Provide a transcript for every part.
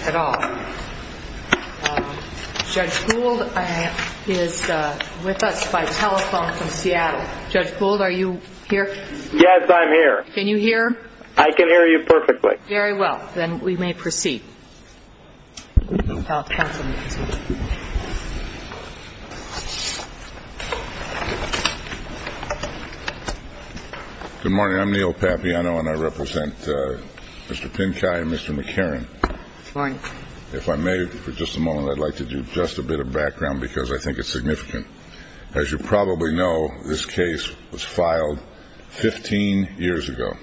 at all. Judge Gould is with us by telephone from Seattle. Judge Gould, are you here? Yes, I'm here. Can you hear? I can hear you perfectly. Very well. Then we may proceed. Good morning. I'm Neil Papiano, and I represent Mr. Pincay and Mr. McCarran. Good morning. If I may, for just a moment, I'd like to do just a bit of background because I think it's significant. As you probably know, this case was filed 15 years ago.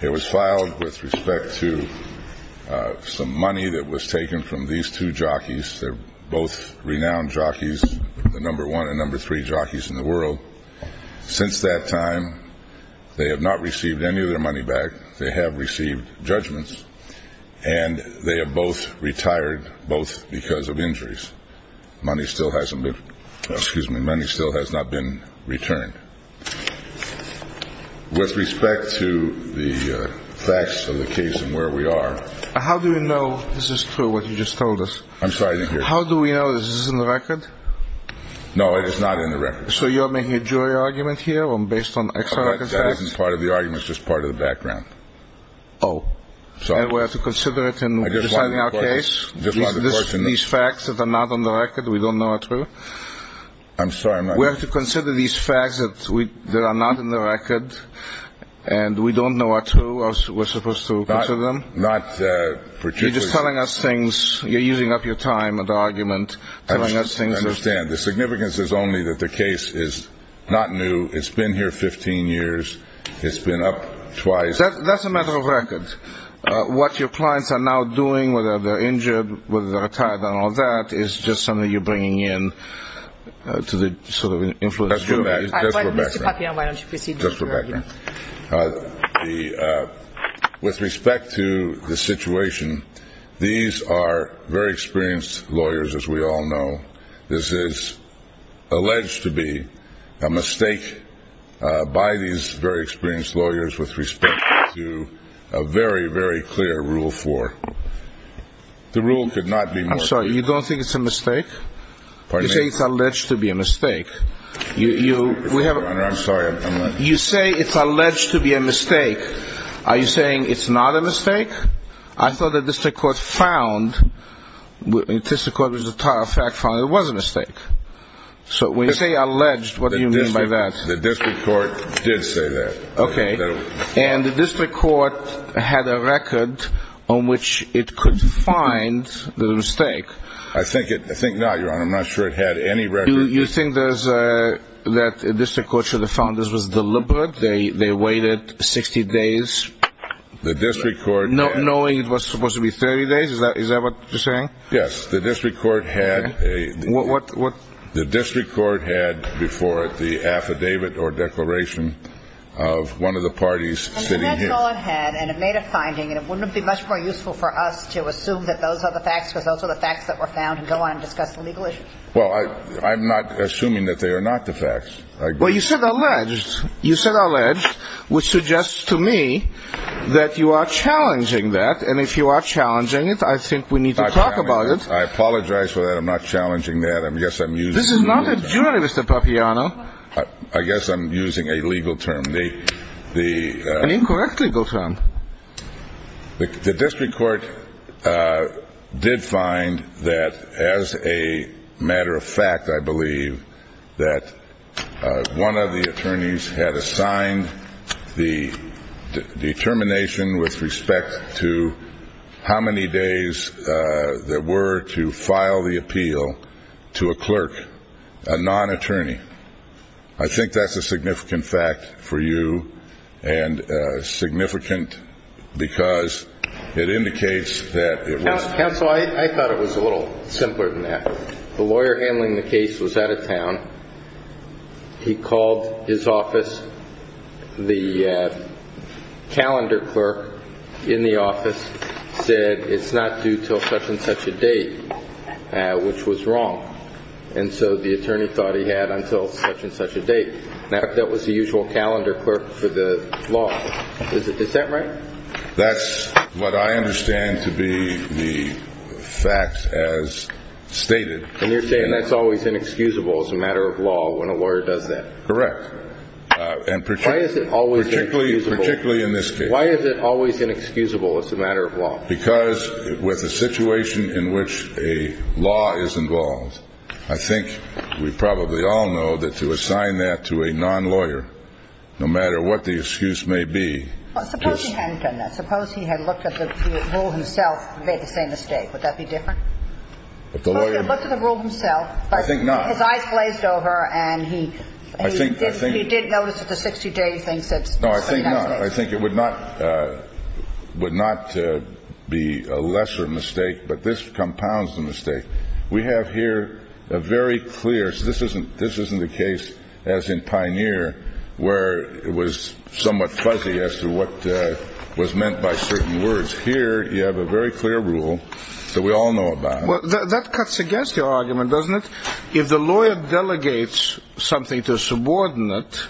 It was filed with respect to some money that was taken from these two jockeys. They're both renowned jockeys, the number one and number three jockeys in the world. Since that time, they have not received any of their money back. They have received judgments, and they have both retired, both because of injuries. But money still has not been returned. With respect to the facts of the case and where we are. How do we know this is true, what you just told us? I'm sorry, I didn't hear you. How do we know? Is this in the record? No, it is not in the record. So you're making a jury argument here based on extra evidence? Oh, sorry. And we have to consider it in deciding our case? I just wanted to question this. These facts that are not on the record, we don't know are true? I'm sorry, I'm not. We have to consider these facts that are not in the record, and we don't know are true? We're supposed to consider them? Not particularly. You're just telling us things. You're using up your time in the argument, telling us things. I understand. The significance is only that the case is not new. It's been here 15 years. It's been up twice. That's a matter of record. What your clients are now doing, whether they're injured, whether they're retired and all that, is just something you're bringing in to sort of influence the jury. That's Rebecca. Mr. Papillon, why don't you proceed with your argument? With respect to the situation, these are very experienced lawyers, as we all know. This is alleged to be a mistake by these very experienced lawyers with respect to a very, very clear Rule 4. The rule could not be more clear. I'm sorry, you don't think it's a mistake? Pardon me? You say it's alleged to be a mistake. Your Honor, I'm sorry. You say it's alleged to be a mistake. Are you saying it's not a mistake? I thought the district court found, the district court was in fact found it was a mistake. So when you say alleged, what do you mean by that? The district court did say that. Okay. And the district court had a record on which it could find the mistake. I think not, Your Honor. I'm not sure it had any record. You think that the district court should have found this was deliberate? They waited 60 days? The district court had. Knowing it was supposed to be 30 days? Is that what you're saying? Yes. The district court had a. What? The district court had before it the affidavit or declaration of one of the parties sitting here. And that's all it had, and it made a finding, and it wouldn't be much more useful for us to assume that those are the facts, because those are the facts that were found, and go on and discuss the legal issues. Well, I'm not assuming that they are not the facts. Well, you said alleged. You said alleged, which suggests to me that you are challenging that. And if you are challenging it, I think we need to talk about it. I apologize for that. I'm not challenging that. I guess I'm using. This is not a jury, Mr. Papiano. I guess I'm using a legal term. An incorrect legal term. The district court did find that as a matter of fact, I believe, that one of the attorneys had assigned the determination with respect to how many days there were to file the appeal to a clerk, a non-attorney. I think that's a significant fact for you, and significant because it indicates that it was. Counsel, I thought it was a little simpler than that. The lawyer handling the case was out of town. He called his office. The calendar clerk in the office said it's not due until such and such a date, which was wrong. And so the attorney thought he had until such and such a date. Now, that was the usual calendar clerk for the law. Is that right? That's what I understand to be the fact as stated. And you're saying that's always inexcusable as a matter of law when a lawyer does that. Correct. Why is it always inexcusable? Particularly in this case. Why is it always inexcusable as a matter of law? Because with the situation in which a law is involved, I think we probably all know that to assign that to a non-lawyer, no matter what the excuse may be. Suppose he hadn't done that. Suppose he had looked at the rule himself and made the same mistake. Would that be different? If the lawyer looked at the rule himself. I think not. His eyes glazed over, and he did notice at the 60 days. I think it would not be a lesser mistake, but this compounds the mistake. We have here a very clear. This isn't the case as in Pioneer where it was somewhat fuzzy as to what was meant by certain words. Here you have a very clear rule that we all know about. That cuts against your argument, doesn't it? If the lawyer delegates something to a subordinate,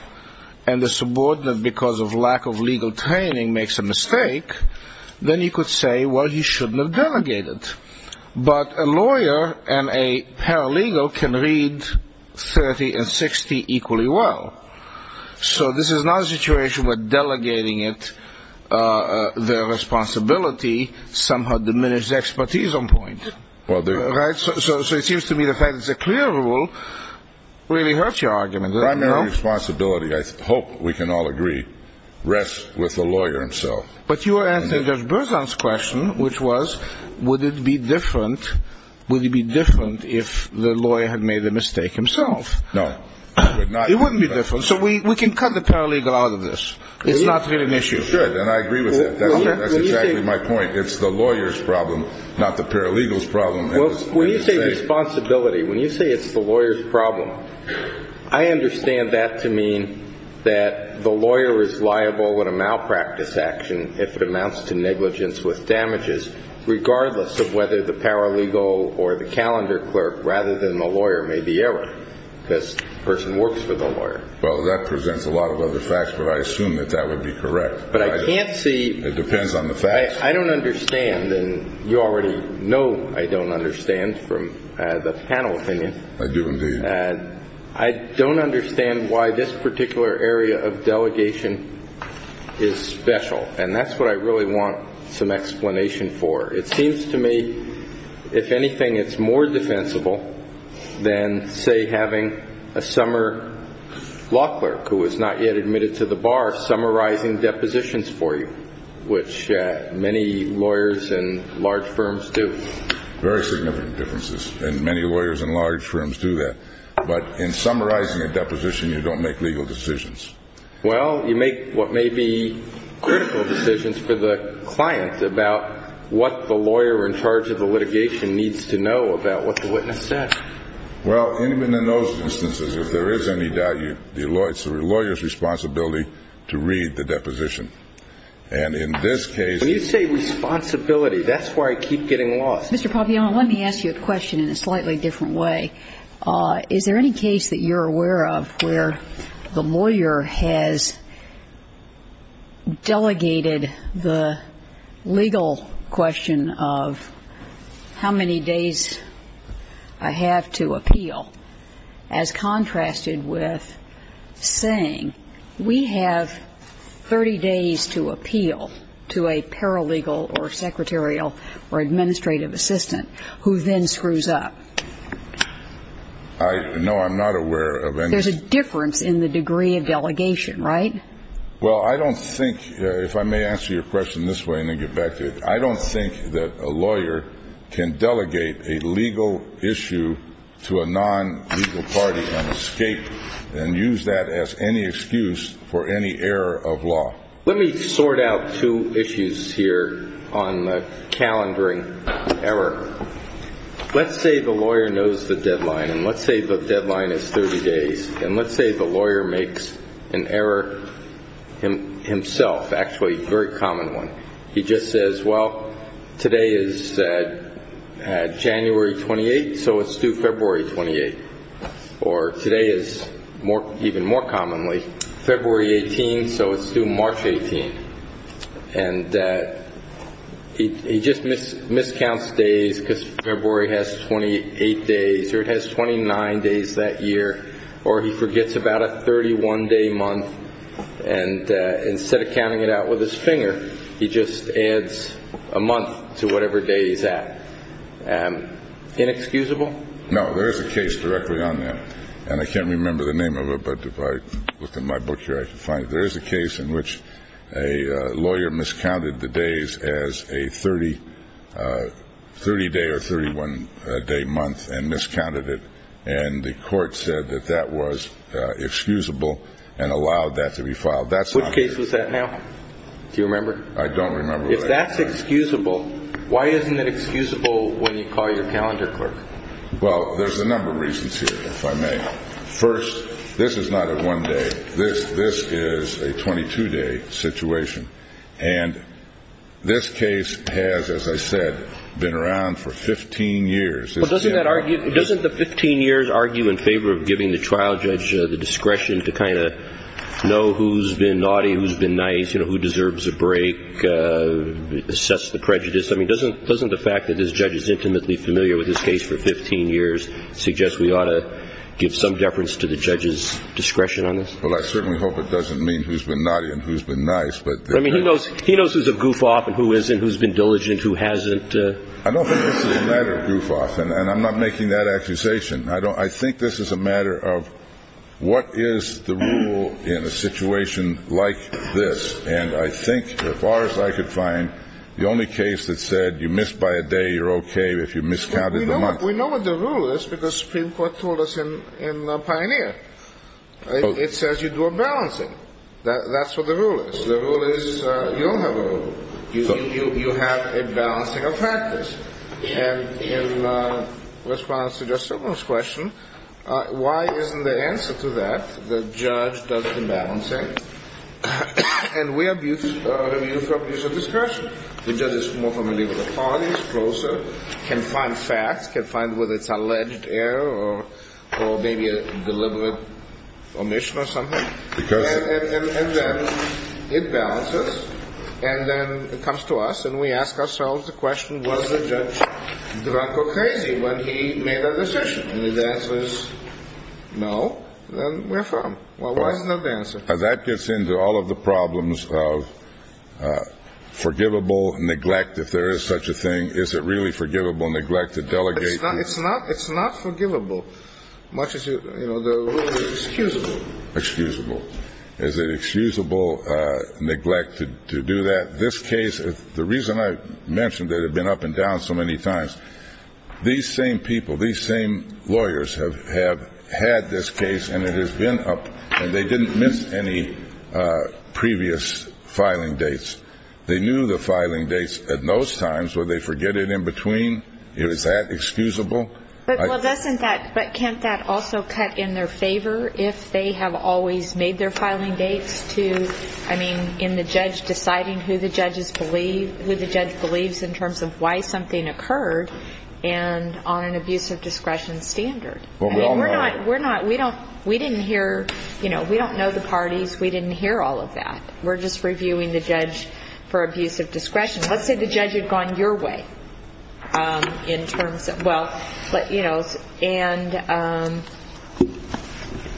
and the subordinate, because of lack of legal training, makes a mistake, then you could say, well, he shouldn't have delegated. But a lawyer and a paralegal can read 30 and 60 equally well. So this is not a situation where delegating it, their responsibility somehow diminishes expertise on point. So it seems to me the fact it's a clear rule really hurts your argument. The primary responsibility, I hope we can all agree, rests with the lawyer himself. But you are answering Judge Berzon's question, which was, would it be different if the lawyer had made the mistake himself? No. It wouldn't be different. So we can cut the paralegal out of this. It's not really an issue. You should, and I agree with that. That's exactly my point. It's the lawyer's problem, not the paralegal's problem. Well, when you say responsibility, when you say it's the lawyer's problem, I understand that to mean that the lawyer is liable in a malpractice action if it amounts to negligence with damages, regardless of whether the paralegal or the calendar clerk, rather than the lawyer, made the error. Because the person works for the lawyer. Well, that presents a lot of other facts, but I assume that that would be correct. But I can't see. It depends on the facts. I don't understand, and you already know I don't understand from the panel opinion. I do, indeed. I don't understand why this particular area of delegation is special. And that's what I really want some explanation for. It seems to me, if anything, it's more defensible than, say, having a summer law clerk, who is not yet admitted to the bar, summarizing depositions for you, which many lawyers in large firms do. Very significant differences, and many lawyers in large firms do that. But in summarizing a deposition, you don't make legal decisions. Well, you make what may be critical decisions for the client about what the lawyer in charge of the litigation needs to know about what the witness said. Well, even in those instances, if there is any doubt, it's the lawyer's responsibility to read the deposition. And in this case. When you say responsibility, that's why I keep getting lost. Mr. Papiano, let me ask you a question in a slightly different way. Is there any case that you're aware of where the lawyer has delegated the legal question of how many days I have to appeal, as contrasted with saying we have 30 days to appeal to a paralegal or secretarial or administrative assistant who then screws up? No, I'm not aware of any. There's a difference in the degree of delegation, right? Well, I don't think, if I may answer your question this way and then get back to it, I don't think that a lawyer can delegate a legal issue to a non-legal party and escape and use that as any excuse for any error of law. Let me sort out two issues here on the calendaring error. Let's say the lawyer knows the deadline. And let's say the deadline is 30 days. And let's say the lawyer makes an error himself, actually a very common one. He just says, well, today is January 28th, so it's due February 28th. Or today is, even more commonly, February 18th, so it's due March 18th. And he just miscounts days because February has 28 days or it has 29 days that year. Or he forgets about a 31-day month. And instead of counting it out with his finger, he just adds a month to whatever day he's at. Inexcusable? No, there is a case directly on that. And I can't remember the name of it, but if I look in my book here, I can find it. There's a case in which a lawyer miscounted the days as a 30-day or 31-day month and miscounted it. And the court said that that was excusable and allowed that to be filed. Which case was that now? Do you remember? I don't remember. If that's excusable, why isn't it excusable when you call your calendar clerk? Well, there's a number of reasons here, if I may. First, this is not a one-day. This is a 22-day situation. And this case has, as I said, been around for 15 years. Doesn't the 15 years argue in favor of giving the trial judge the discretion to kind of know who's been naughty, who's been nice, who deserves a break, assess the prejudice? I mean, doesn't the fact that this judge is intimately familiar with this case for 15 years suggest we ought to give some deference to the judge's discretion on this? Well, I certainly hope it doesn't mean who's been naughty and who's been nice. I mean, he knows who's a goof-off and who isn't, who's been diligent, who hasn't. I don't think this is a matter of goof-off, and I'm not making that accusation. I think this is a matter of what is the rule in a situation like this? And I think, as far as I could find, the only case that said you missed by a day, you're okay if you miscounted the month. We know what the rule is because the Supreme Court told us in Pioneer. It says you do a balancing. That's what the rule is. The rule is you don't have a rule. You have a balancing of factors. And in response to Justice Sotomayor's question, why isn't the answer to that the judge does the balancing and we abuse the discretion? The judge is more familiar with the parties, closer, can find facts, can find whether it's an alleged error or maybe a deliberate omission or something. And then it balances, and then it comes to us, and we ask ourselves the question, was the judge drunk or crazy when he made that decision? And if the answer is no, then we're firm. Well, why isn't that the answer? That gets into all of the problems of forgivable neglect, if there is such a thing. Is it really forgivable neglect to delegate? It's not forgivable, much as the rule is excusable. Excusable. Is it excusable neglect to do that? This case, the reason I mentioned it had been up and down so many times, these same people, these same lawyers have had this case, and it has been up, and they didn't miss any previous filing dates. They knew the filing dates at those times. Would they forget it in between? Is that excusable? But can't that also cut in their favor if they have always made their filing dates to, I mean, in the judge deciding who the judge believes in terms of why something occurred and on an abuse of discretion standard? I mean, we're not, we didn't hear, you know, we don't know the parties. We didn't hear all of that. We're just reviewing the judge for abuse of discretion. Let's say the judge had gone your way in terms of, well, but, you know, and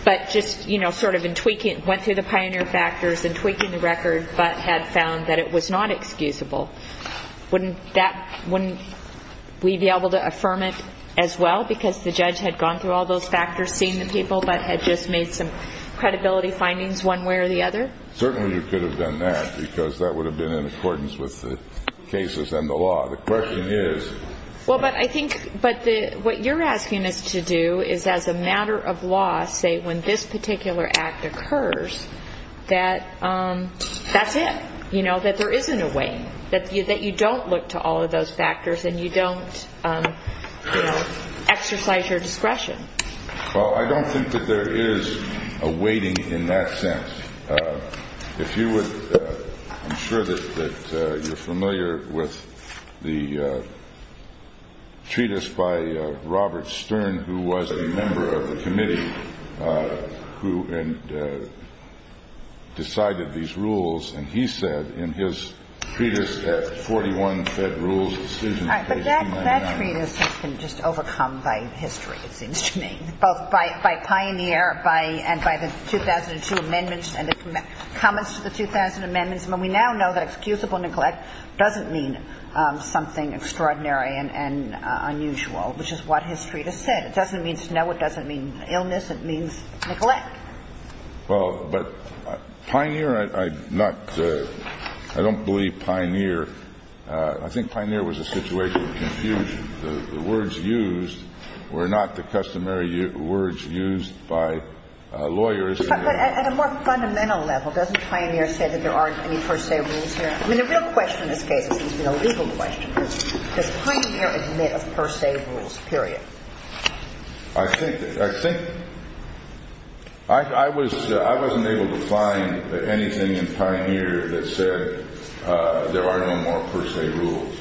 but just, you know, sort of in tweaking, went through the pioneer factors and tweaking the record but had found that it was not excusable. Wouldn't that, wouldn't we be able to affirm it as well because the judge had gone through all those factors, seen the people, but had just made some credibility findings one way or the other? Certainly you could have done that because that would have been in accordance with the cases and the law. The question is. Well, but I think, but the, what you're asking us to do is as a matter of law, say when this particular act occurs, that that's it, you know, that there isn't a way, that you don't look to all of those factors and you don't, you know, exercise your discretion. Well, I don't think that there is a waiting in that sense. If you would, I'm sure that you're familiar with the treatise by Robert Stern, who was a member of the committee who decided these rules, and he said in his treatise at 41 Federal Decisions, page 299. All right, but that treatise has been just overcome by history, it seems to me, both by pioneer and by the 2002 amendments and the comments to the 2000 amendments. And we now know that excusable neglect doesn't mean something extraordinary and unusual, which is what history has said. It doesn't mean snow. It doesn't mean illness. It means neglect. Well, but pioneer, I'm not, I don't believe pioneer, I think pioneer was a situation of confusion. The words used were not the customary words used by lawyers. But at a more fundamental level, doesn't pioneer say that there aren't any per se rules here? I mean, the real question in this case has been a legal question. Does pioneer admit of per se rules, period? I think, I wasn't able to find anything in pioneer that said there are no more per se rules.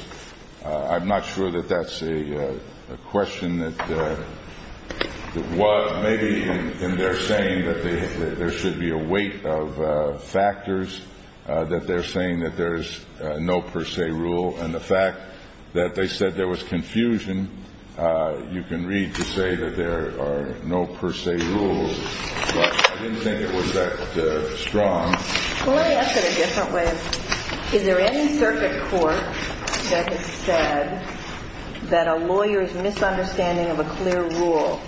I'm not sure that that's a question that was maybe in their saying that there should be a weight of factors, that they're saying that there's no per se rule. And the fact that they said there was confusion, you can read to say that there are no per se rules. But I didn't think it was that strong. Well, let me ask it a different way. Is there any circuit court that has said that a lawyer's misunderstanding of a clear rule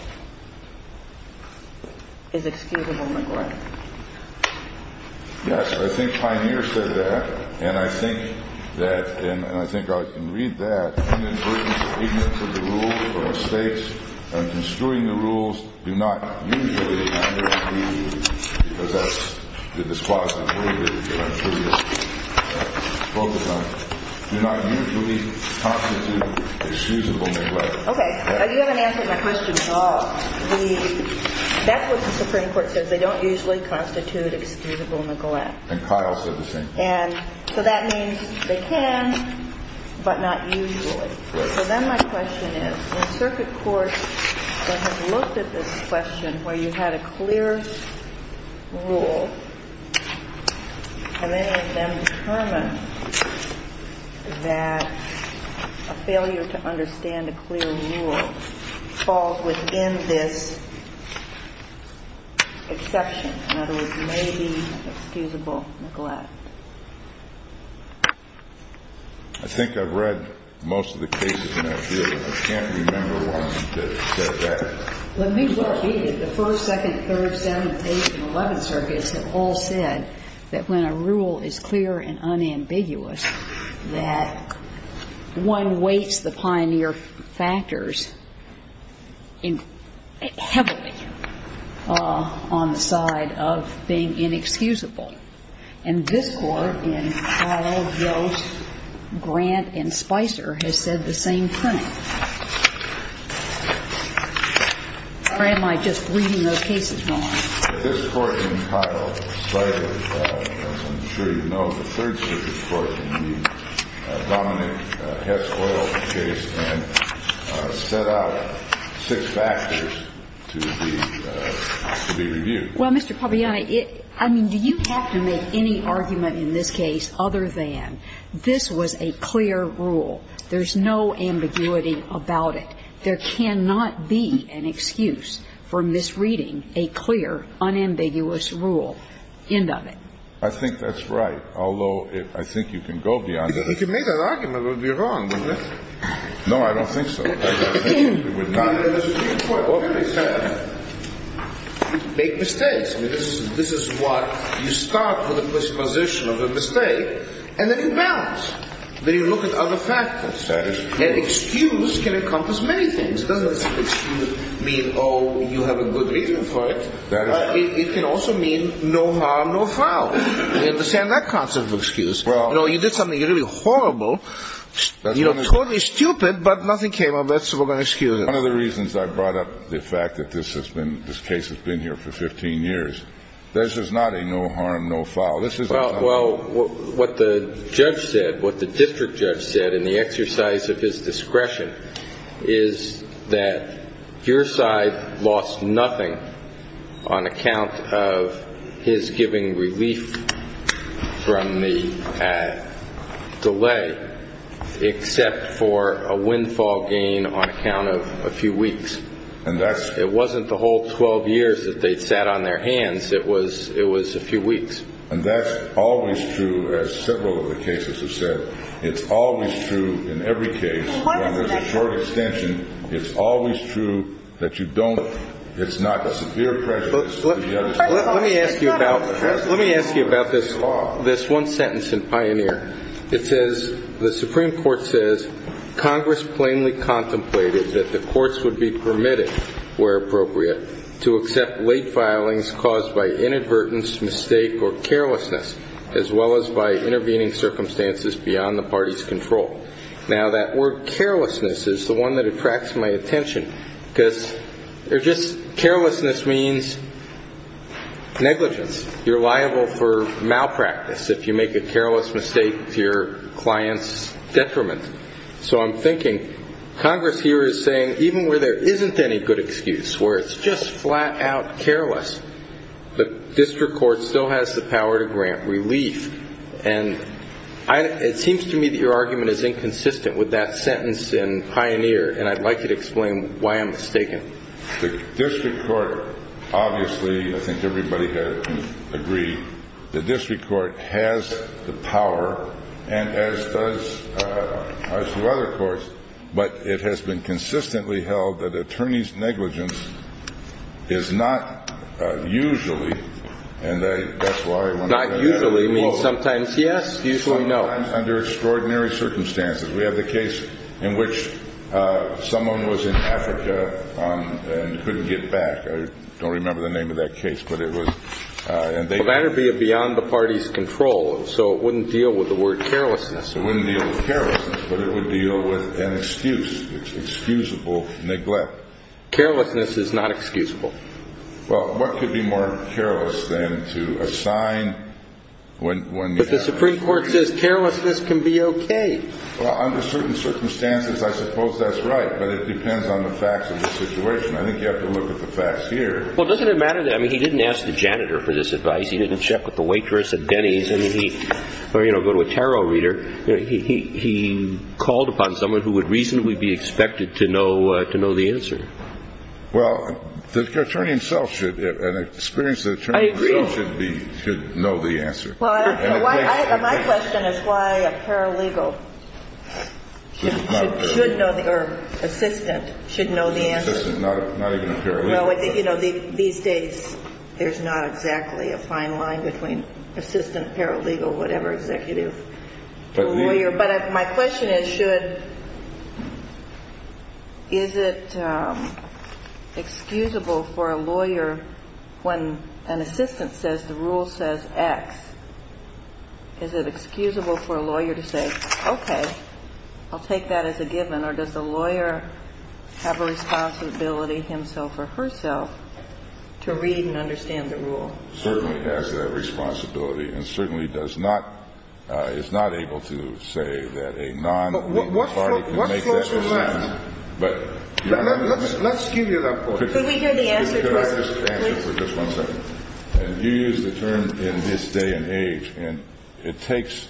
is excusable neglect? Yes. I think pioneer said that. And I think that, and I think I can read that inadvertent ignorance of the rules or mistakes in construing the rules do not usually under the, because that's the disquasification that I'm curious to focus on, do not usually constitute excusable neglect. Okay. You haven't answered my question at all. That's what the Supreme Court says. They don't usually constitute excusable neglect. And Kyle said the same thing. And so that means they can, but not usually. So then my question is, the circuit court that has looked at this question where you had a clear rule, have any of them determined that a failure to understand a clear rule falls within this exception, in other words, may be excusable neglect? I think I've read most of the cases in that field, but I can't remember one that said that. Let me repeat it. The first, second, third, seventh, eighth, and eleventh circuits have all said that when a rule is clear and unambiguous that one weights the pioneer factors heavily on the side of being inexcusable. And this Court, in Kyle, Gross, Grant, and Spicer, has said the same thing. Or am I just reading those cases wrong? This Court in Kyle cited, as I'm sure you know, the Third Circuit Court in the Dominick Hess Oil case and set out six factors to be reviewed. Well, Mr. Papagianni, I mean, do you have to make any argument in this case other than this was a clear rule? There's no ambiguity about it. There cannot be an excuse for misreading a clear, unambiguous rule. End of it. I think that's right, although I think you can go beyond that. If you can make that argument, it would be wrong, wouldn't it? No, I don't think so. And there's a key point. What can we say? Make mistakes. I mean, this is what you start with a presupposition of a mistake, and then you balance. Then you look at other factors. And excuse can encompass many things. It doesn't mean, oh, you have a good reason for it. It can also mean no harm, no foul. You understand that concept of excuse? You know, you did something really horrible, totally stupid, but nothing came of it, so we're going to excuse it. One of the reasons I brought up the fact that this case has been here for 15 years, this is not a no harm, no foul. Well, what the judge said, what the district judge said in the exercise of his discretion, is that Gearside lost nothing on account of his giving relief from the delay, except for a windfall gain on account of a few weeks. It wasn't the whole 12 years that they sat on their hands. It was a few weeks. And that's always true, as several of the cases have said. It's always true in every case. When there's a short extension, it's always true that you don't. It's not a severe prejudice. Let me ask you about this one sentence in Pioneer. It says, the Supreme Court says, Congress plainly contemplated that the courts would be permitted, where appropriate, to accept late filings caused by inadvertence, mistake, or carelessness, as well as by intervening circumstances beyond the party's control. Now, that word carelessness is the one that attracts my attention, because carelessness means negligence. You're liable for malpractice if you make a careless mistake to your client's detriment. So I'm thinking, Congress here is saying, even where there isn't any good excuse, where it's just flat-out careless, the district court still has the power to grant relief. And it seems to me that your argument is inconsistent with that sentence in Pioneer, and I'd like you to explain why I'm mistaken. The district court, obviously, I think everybody had agreed, the district court has the power, and as does the other courts, but it has been consistently held that attorney's negligence is not usually, and that's why I want to bring that up. Not usually means sometimes yes, usually no. Sometimes under extraordinary circumstances. We had the case in which someone was in Africa and couldn't get back. I don't remember the name of that case, but it was. Well, that would be beyond the party's control, so it wouldn't deal with the word carelessness. It wouldn't deal with carelessness, but it would deal with an excuse, excusable neglect. Carelessness is not excusable. Well, what could be more careless than to assign when you have to? But the Supreme Court says carelessness can be okay. Well, under certain circumstances, I suppose that's right, but it depends on the facts of the situation. I think you have to look at the facts here. Well, doesn't it matter that, I mean, he didn't ask the janitor for this advice, he didn't check with the waitress at Denny's, or, you know, go to a tarot reader. He called upon someone who would reasonably be expected to know the answer. Well, the attorney himself should, and experienced attorney himself should know the answer. Well, my question is why a paralegal should know, or assistant, should know the answer. Assistant, not even a paralegal. Well, I think, you know, these days there's not exactly a fine line between assistant, paralegal, whatever, executive, lawyer. But my question is should, is it excusable for a lawyer when an assistant says the rule says X, is it excusable for a lawyer to say, okay, I'll take that as a given, or does the lawyer have a responsibility himself or herself to read and understand the rule? Certainly has that responsibility, and certainly does not, is not able to say that a nonparty can make that decision. But what floats your boat? Let's give you that point. Could we hear the answer, please? Could I just answer for just one second? You use the term in this day and age, and it takes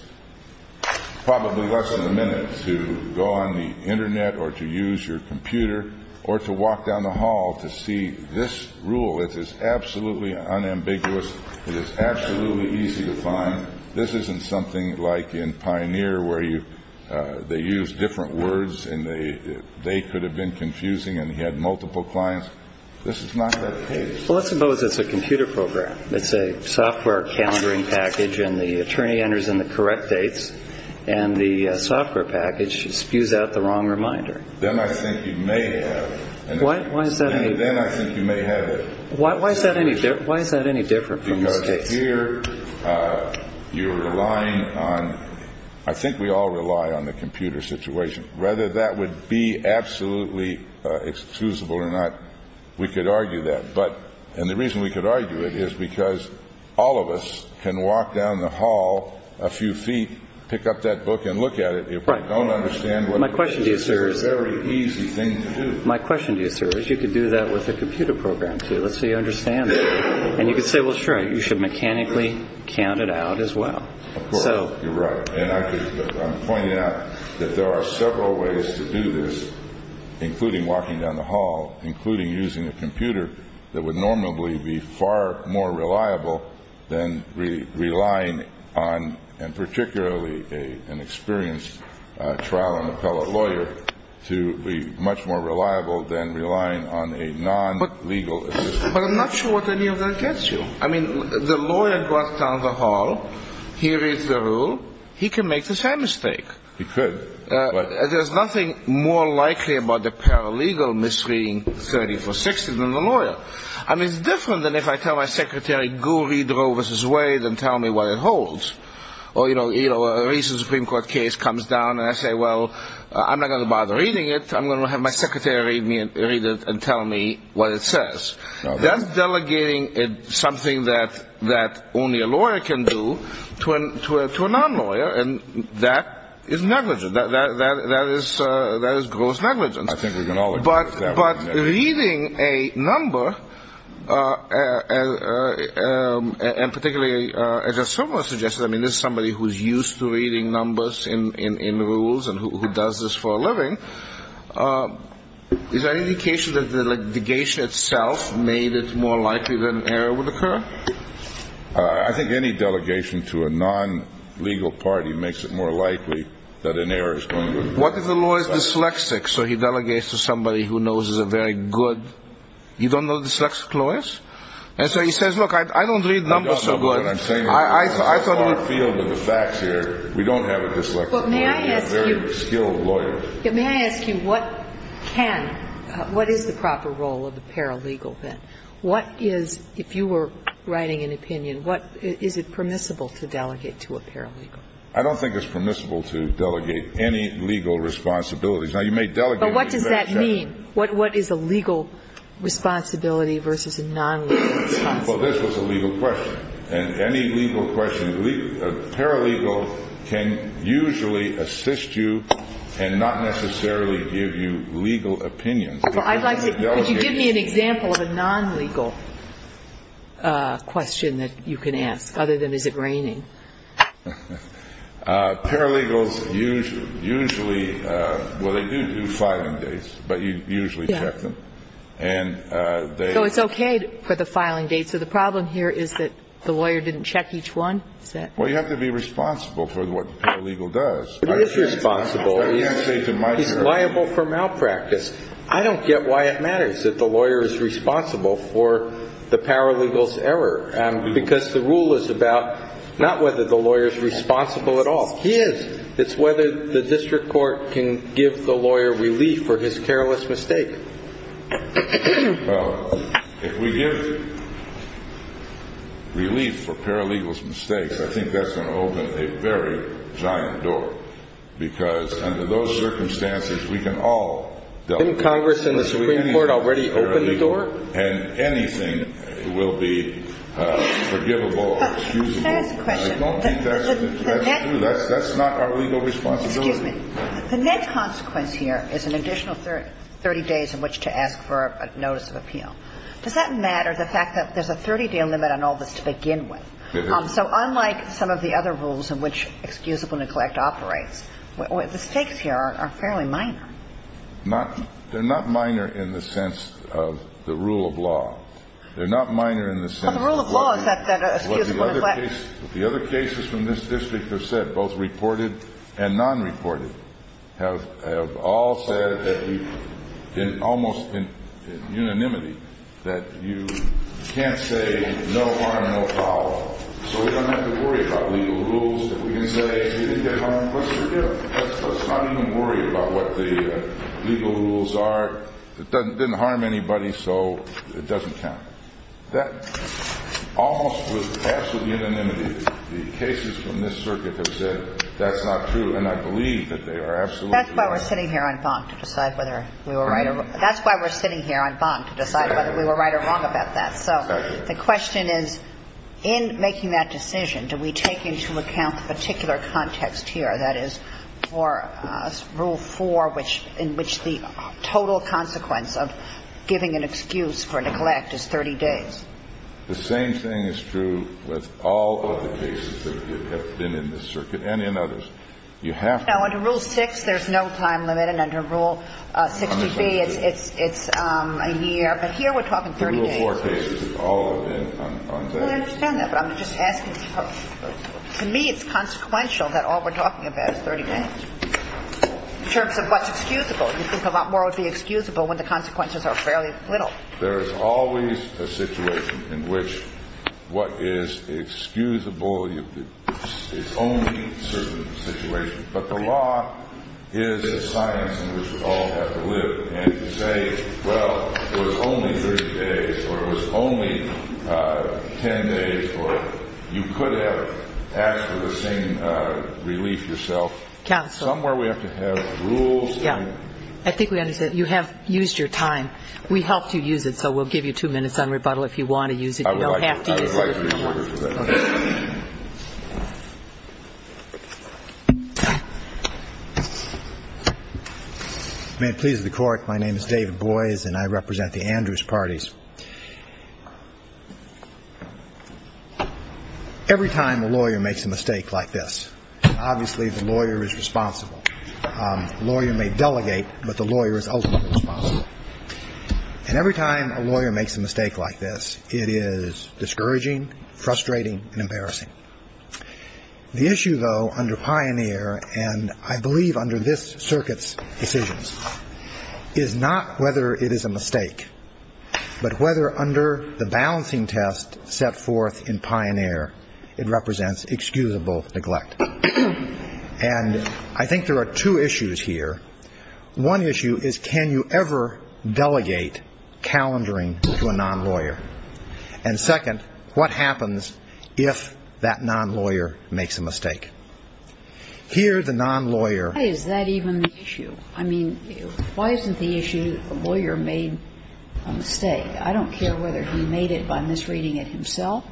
probably less than a minute to go on the Internet or to use your computer or to walk down the hall to see this rule. It is absolutely unambiguous. It is absolutely easy to find. This isn't something like in Pioneer where they use different words and they could have been confusing and he had multiple clients. This is not that case. Well, let's suppose it's a computer program. It's a software calendaring package, and the attorney enters in the correct dates, and the software package spews out the wrong reminder. Then I think you may have it. Why is that any different from this case? Because here you're relying on, I think we all rely on the computer situation. Whether that would be absolutely excusable or not, we could argue that. And the reason we could argue it is because all of us can walk down the hall a few feet, pick up that book, and look at it. If we don't understand what it is, it's a very easy thing to do. My question to you, sir, is you could do that with a computer program, too. Let's say you understand that. And you could say, well, sure, you should mechanically count it out as well. Of course, you're right. And I'm pointing out that there are several ways to do this, including walking down the hall, including using a computer that would normally be far more reliable than relying on, and particularly an experienced trial and appellate lawyer, to be much more reliable than relying on a non-legal assistant. But I'm not sure what any of that gets you. I mean, the lawyer goes down the hall, he reads the rule, he can make the same mistake. He could. There's nothing more likely about the paralegal misreading 3460 than the lawyer. I mean, it's different than if I tell my secretary, go read Roe v. Wade and tell me what it holds. Or, you know, a recent Supreme Court case comes down and I say, well, I'm not going to bother reading it. I'm going to have my secretary read it and tell me what it says. That's delegating something that only a lawyer can do to a non-lawyer. And that is negligence. That is gross negligence. I think we can all agree with that one. But reading a number, and particularly, as a similar suggestion, I mean, this is somebody who's used to reading numbers in rules and who does this for a living. Is there any indication that the delegation itself made it more likely that an error would occur? I think any delegation to a non-legal party makes it more likely that an error is going to occur. What if the lawyer is dyslexic? So he delegates to somebody who knows is a very good ‑‑ you don't know dyslexic lawyers? And so he says, look, I don't read numbers so good. I don't know what I'm saying. I thought it was ‑‑ It's a far field in the facts here. We don't have a dyslexic lawyer. We have very skilled lawyers. May I ask you what can ‑‑ what is the proper role of the paralegal then? What is, if you were writing an opinion, what ‑‑ is it permissible to delegate to a paralegal? I don't think it's permissible to delegate any legal responsibilities. Now, you may delegate ‑‑ But what does that mean? What is a legal responsibility versus a non‑legal responsibility? Well, this was a legal question. And any legal question, a paralegal can usually assist you and not necessarily give you legal opinions. Well, I'd like to ‑‑ could you give me an example of a non‑legal question that you can ask? Other than is it raining? Paralegals usually ‑‑ well, they do do filing dates, but you usually check them. Yeah. And they ‑‑ So it's okay for the filing dates. So the problem here is that the lawyer didn't check each one? Is that ‑‑ Well, you have to be responsible for what the paralegal does. Who is responsible? I can't say to myself. He's liable for malpractice. I don't get why it matters that the lawyer is responsible for the paralegal's error. Because the rule is about not whether the lawyer is responsible at all. He is. It's whether the district court can give the lawyer relief for his careless mistake. Well, if we give relief for paralegal's mistakes, I think that's going to open a very giant door. Because under those circumstances, we can all ‑‑ Didn't Congress and the Supreme Court already open the door? And anything will be forgivable, excusable. Can I ask a question? I don't think that's true. That's not our legal responsibility. Excuse me. The net consequence here is an additional 30 days in which to ask for a notice of appeal. Does that matter, the fact that there's a 30‑day limit on all this to begin with? It is. So unlike some of the other rules in which excusable neglect operates, the stakes here are fairly minor. They're not minor in the sense of the rule of law. They're not minor in the sense of what the other cases from this district have said, both reported and non‑reported, have all said in almost unanimity that you can't say no harm, no problem. So we don't have to worry about legal rules. We can say, what's your deal? Let's not even worry about what the legal rules are. It didn't harm anybody, so it doesn't count. That almost was absolute unanimity. The cases from this circuit have said that's not true. And I believe that they are absolutely right. That's why we're sitting here on bonk to decide whether we were right or wrong. That's why we're sitting here on bonk to decide whether we were right or wrong about that. So the question is, in making that decision, do we take into account the particular context here, that is for rule 4 in which the total consequence of giving an excuse for neglect is 30 days? The same thing is true with all of the cases that have been in this circuit and in others. You have to ‑‑ 60B, it's a year. But here we're talking 30 days. Rule 4 cases, all of them on 30 days. I understand that, but I'm just asking. To me, it's consequential that all we're talking about is 30 days. In terms of what's excusable, you think a lot more would be excusable when the consequences are fairly little. There is always a situation in which what is excusable is only certain situations. But the law is a science in which we all have to live and say, well, it was only 30 days or it was only 10 days or you could have asked for the same relief yourself. Counsel. Somewhere we have to have rules. Yeah. I think we understand. You have used your time. We helped you use it, so we'll give you two minutes on rebuttal if you want to use it. You don't have to use it. May it please the Court. My name is David Boies and I represent the Andrews parties. Every time a lawyer makes a mistake like this, obviously the lawyer is responsible. A lawyer may delegate, but the lawyer is ultimately responsible. And every time a lawyer makes a mistake like this, it is discouraging, frustrating and embarrassing. The issue, though, under Pioneer and I believe under this circuit's decisions is not whether it is a mistake, but whether under the balancing test set forth in Pioneer it represents excusable neglect. And I think there are two issues here. One issue is can you ever delegate calendaring to a non-lawyer? And second, what happens if that non-lawyer makes a mistake? Here the non-lawyer. Why is that even the issue? I mean, why isn't the issue a lawyer made a mistake? I don't care whether he made it by misreading it himself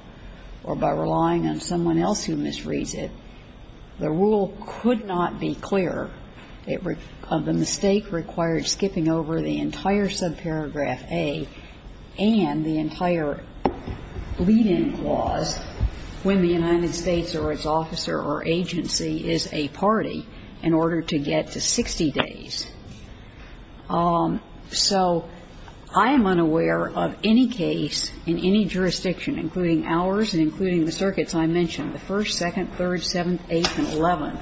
or by relying on someone else who misreads it. The rule could not be clearer. The mistake required skipping over the entire subparagraph A and the entire lead-in clause when the United States or its officer or agency is a party in order to get to 60 days. So I am unaware of any case in any jurisdiction, including ours and including the circuits I mentioned, where the first, second, third, seventh, eighth and eleventh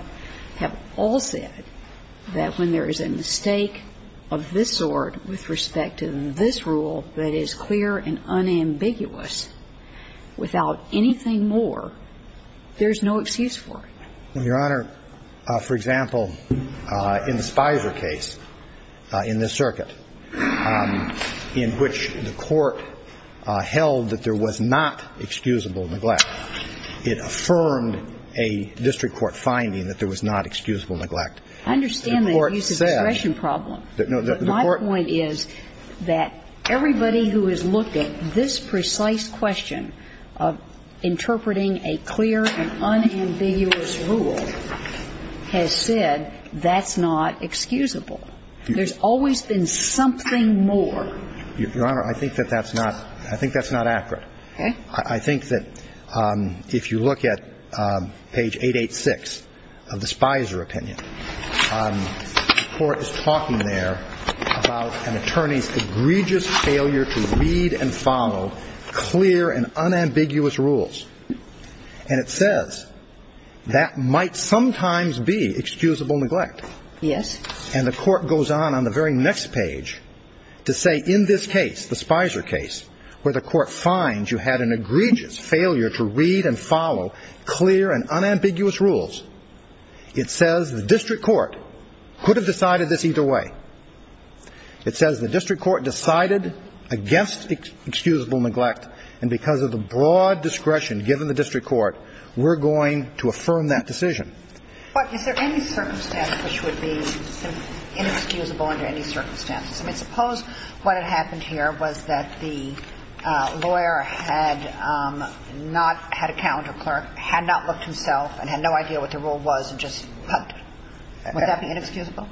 have all said that when there is a mistake of this sort with respect to this rule that is clear and unambiguous without anything more, there is no excuse for it. Your Honor, for example, in the Spizer case in this circuit in which the court held that there was not excusable neglect, it affirmed a district court finding that there was not excusable neglect. The court said that my point is that everybody who has looked at this precise question of interpreting a clear and unambiguous rule has said that's not excusable. There's always been something more. Your Honor, I think that that's not accurate. Okay. I think that if you look at page 886 of the Spizer opinion, the court is talking there about an attorney's egregious failure to read and follow clear and unambiguous rules. And it says that might sometimes be excusable neglect. Yes. And the court goes on on the very next page to say in this case, the Spizer case, where the court finds you had an egregious failure to read and follow clear and unambiguous rules, it says the district court could have decided this either way. It says the district court decided against excusable neglect, and because of the broad discretion given the district court, we're going to affirm that decision. But is there any circumstance which would be inexcusable under any circumstances? I mean, suppose what had happened here was that the lawyer had not had a calendar clerk, had not looked himself, and had no idea what the rule was and just pumped it. Would that be inexcusable?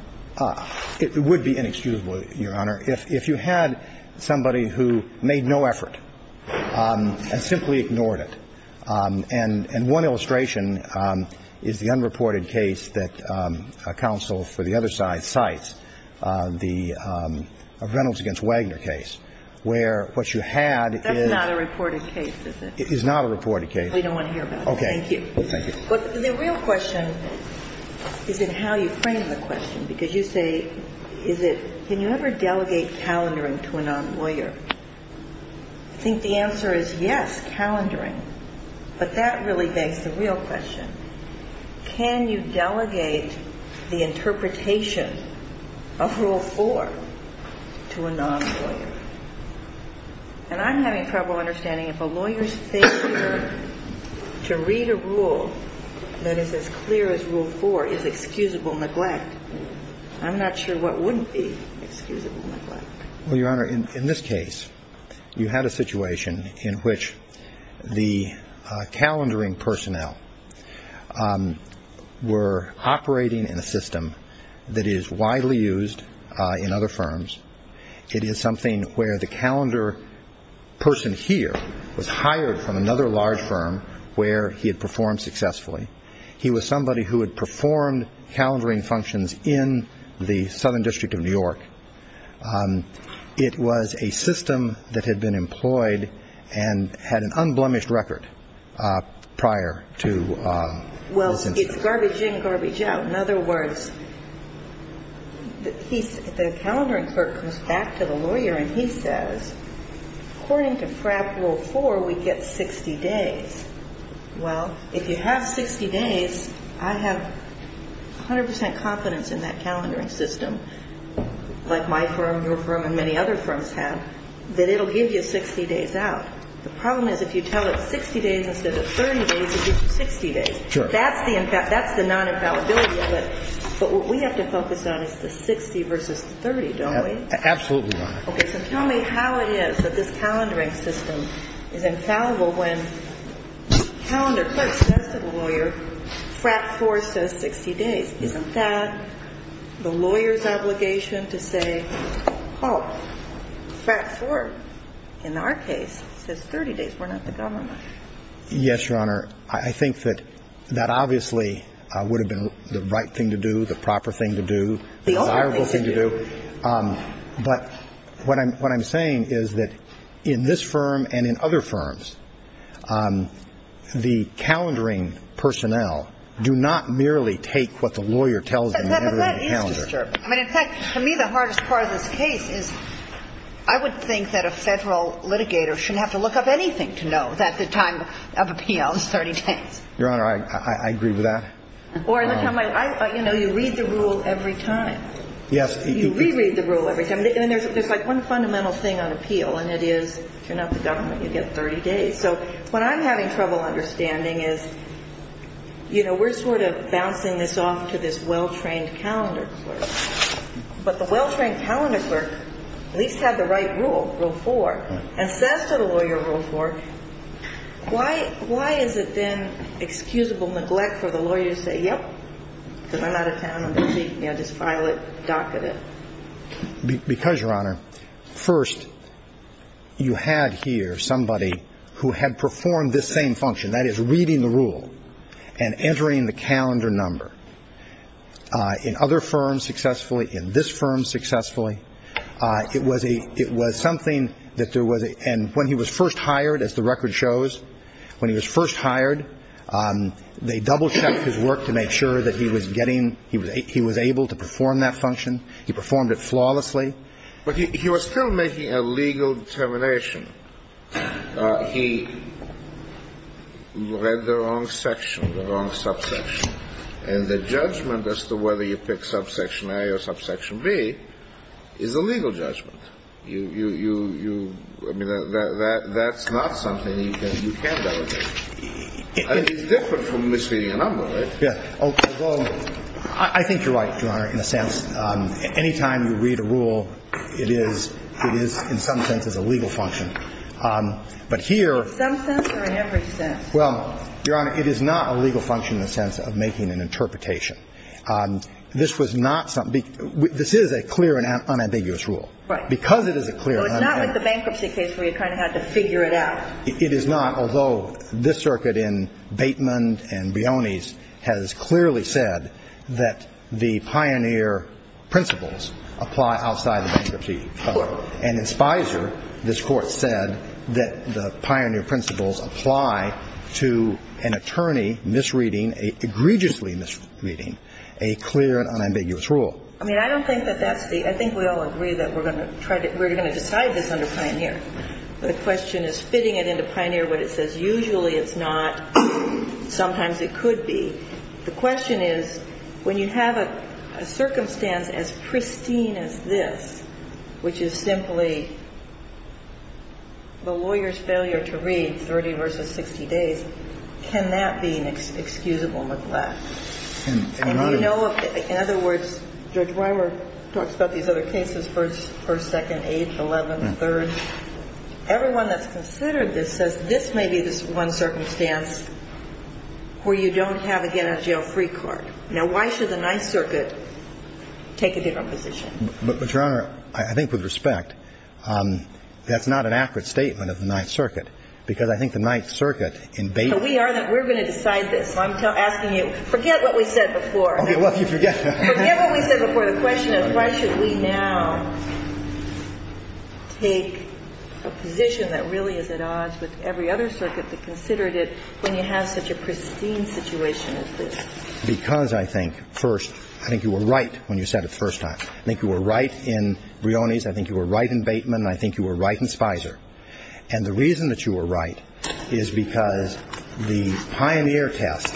It would be inexcusable, Your Honor, if you had somebody who made no effort and simply ignored it. And one illustration is the unreported case that counsel for the other side cites, the Reynolds against Wagner case, where what you had is not a reported case. We don't want to hear about it. Okay. Thank you. But the real question is in how you frame the question, because you say, can you ever delegate calendaring to a non-lawyer? I think the answer is yes, calendaring. But that really begs the real question. Can you delegate the interpretation of Rule 4 to a non-lawyer? And I'm having trouble understanding if a lawyer's failure to read a rule that is as clear as Rule 4 is excusable neglect. I'm not sure what wouldn't be excusable neglect. Well, Your Honor, in this case, you had a situation in which the calendaring personnel were operating in a system that is widely used in other firms. It is something where the calendar person here was hired from another large firm where he had performed successfully. He was somebody who had performed calendaring functions in the Southern District of New York. It was a system that had been employed and had an unblemished record prior to this incident. Well, it's garbage in, garbage out. In other words, the calendaring clerk comes back to the lawyer and he says, according to FRAP Rule 4, we get 60 days. Well, if you have 60 days, I have 100 percent confidence in that calendaring system, like my firm, your firm, and many other firms have, that it will give you 60 days out. The problem is if you tell it 60 days instead of 30 days, it gives you 60 days. Sure. That's the non-infallibility of it. But what we have to focus on is the 60 versus the 30, don't we? Absolutely, Your Honor. Okay, so tell me how it is that this calendaring system is infallible when calendar clerk says to the lawyer, FRAP 4 says 60 days. Isn't that the lawyer's obligation to say, oh, FRAP 4, in our case, says 30 days. We're not the government. Yes, Your Honor. I think that that obviously would have been the right thing to do, the proper thing to do, the desirable thing to do. But what I'm saying is that in this firm and in other firms, the calendaring personnel do not merely take what the lawyer tells them and enter it in the calendar. But that is disturbing. I mean, in fact, for me, the hardest part of this case is I would think that a federal litigator shouldn't have to look up anything to know that the time of appeal is 30 days. Your Honor, I agree with that. Or, you know, you read the rule every time. Yes. You reread the rule every time. And there's like one fundamental thing on appeal, and it is you're not the government. You get 30 days. So what I'm having trouble understanding is, you know, we're sort of bouncing this off to this well-trained calendar clerk. But the well-trained calendar clerk at least had the right rule, Rule 4, and says to the lawyer, Rule 4, why is it then excusable neglect for the lawyer to say, yep, because I'm out of town, I'm busy, you know, just file it, docket it? Because, Your Honor, first, you had here somebody who had performed this same function, that is, reading the rule and entering the calendar number. In other firms successfully, in this firm successfully, it was a – it was something that there was a – and when he was first hired, as the record shows, when he was first hired, they double-checked his work to make sure that he was getting – he was able to perform that function. He performed it flawlessly. But he was still making a legal determination. He read the wrong section, the wrong subsection. And the judgment as to whether you pick subsection A or subsection B is a legal judgment. You – I mean, that's not something that you can delegate. I mean, it's different from misleading a number, right? Yeah. Well, I think you're right, Your Honor, in a sense. Any time you read a rule, it is – it is in some sense is a legal function. But here – Some sense or in every sense? Well, Your Honor, it is not a legal function in the sense of making an interpretation. This was not something – this is a clear and unambiguous rule. Right. Because it is a clear – So it's not like the bankruptcy case where you kind of had to figure it out. It is not, although this circuit in Bateman and Bione's has clearly said that the pioneer principles apply outside the bankruptcy. And in Spicer, this Court said that the pioneer principles apply to an attorney misreading, egregiously misreading, a clear and unambiguous rule. I mean, I don't think that that's the – I think we all agree that we're going to try to – we're going to decide this under pioneer. The question is fitting it into pioneer what it says. Usually it's not. Sometimes it could be. The question is when you have a circumstance as pristine as this, which is simply the lawyer's failure to read 30 versus 60 days, can that be an excusable neglect? In other words, Judge Weimer talks about these other cases, 1st, 2nd, 8th, 11th, 3rd. Everyone that's considered this says this may be this one circumstance where you don't have a get-out-of-jail-free card. Now, why should the Ninth Circuit take a different position? But, Your Honor, I think with respect, that's not an accurate statement of the Ninth Circuit because I think the Ninth Circuit in Bateman – We are going to decide this. So I'm asking you, forget what we said before. Forget what we said before. The question is why should we now take a position that really is at odds with every other circuit that considered it when you have such a pristine situation as this? Because I think, 1st, I think you were right when you said it the first time. I think you were right in Brioni's. I think you were right in Bateman. And I think you were right in Spicer. And the reason that you were right is because the Pioneer test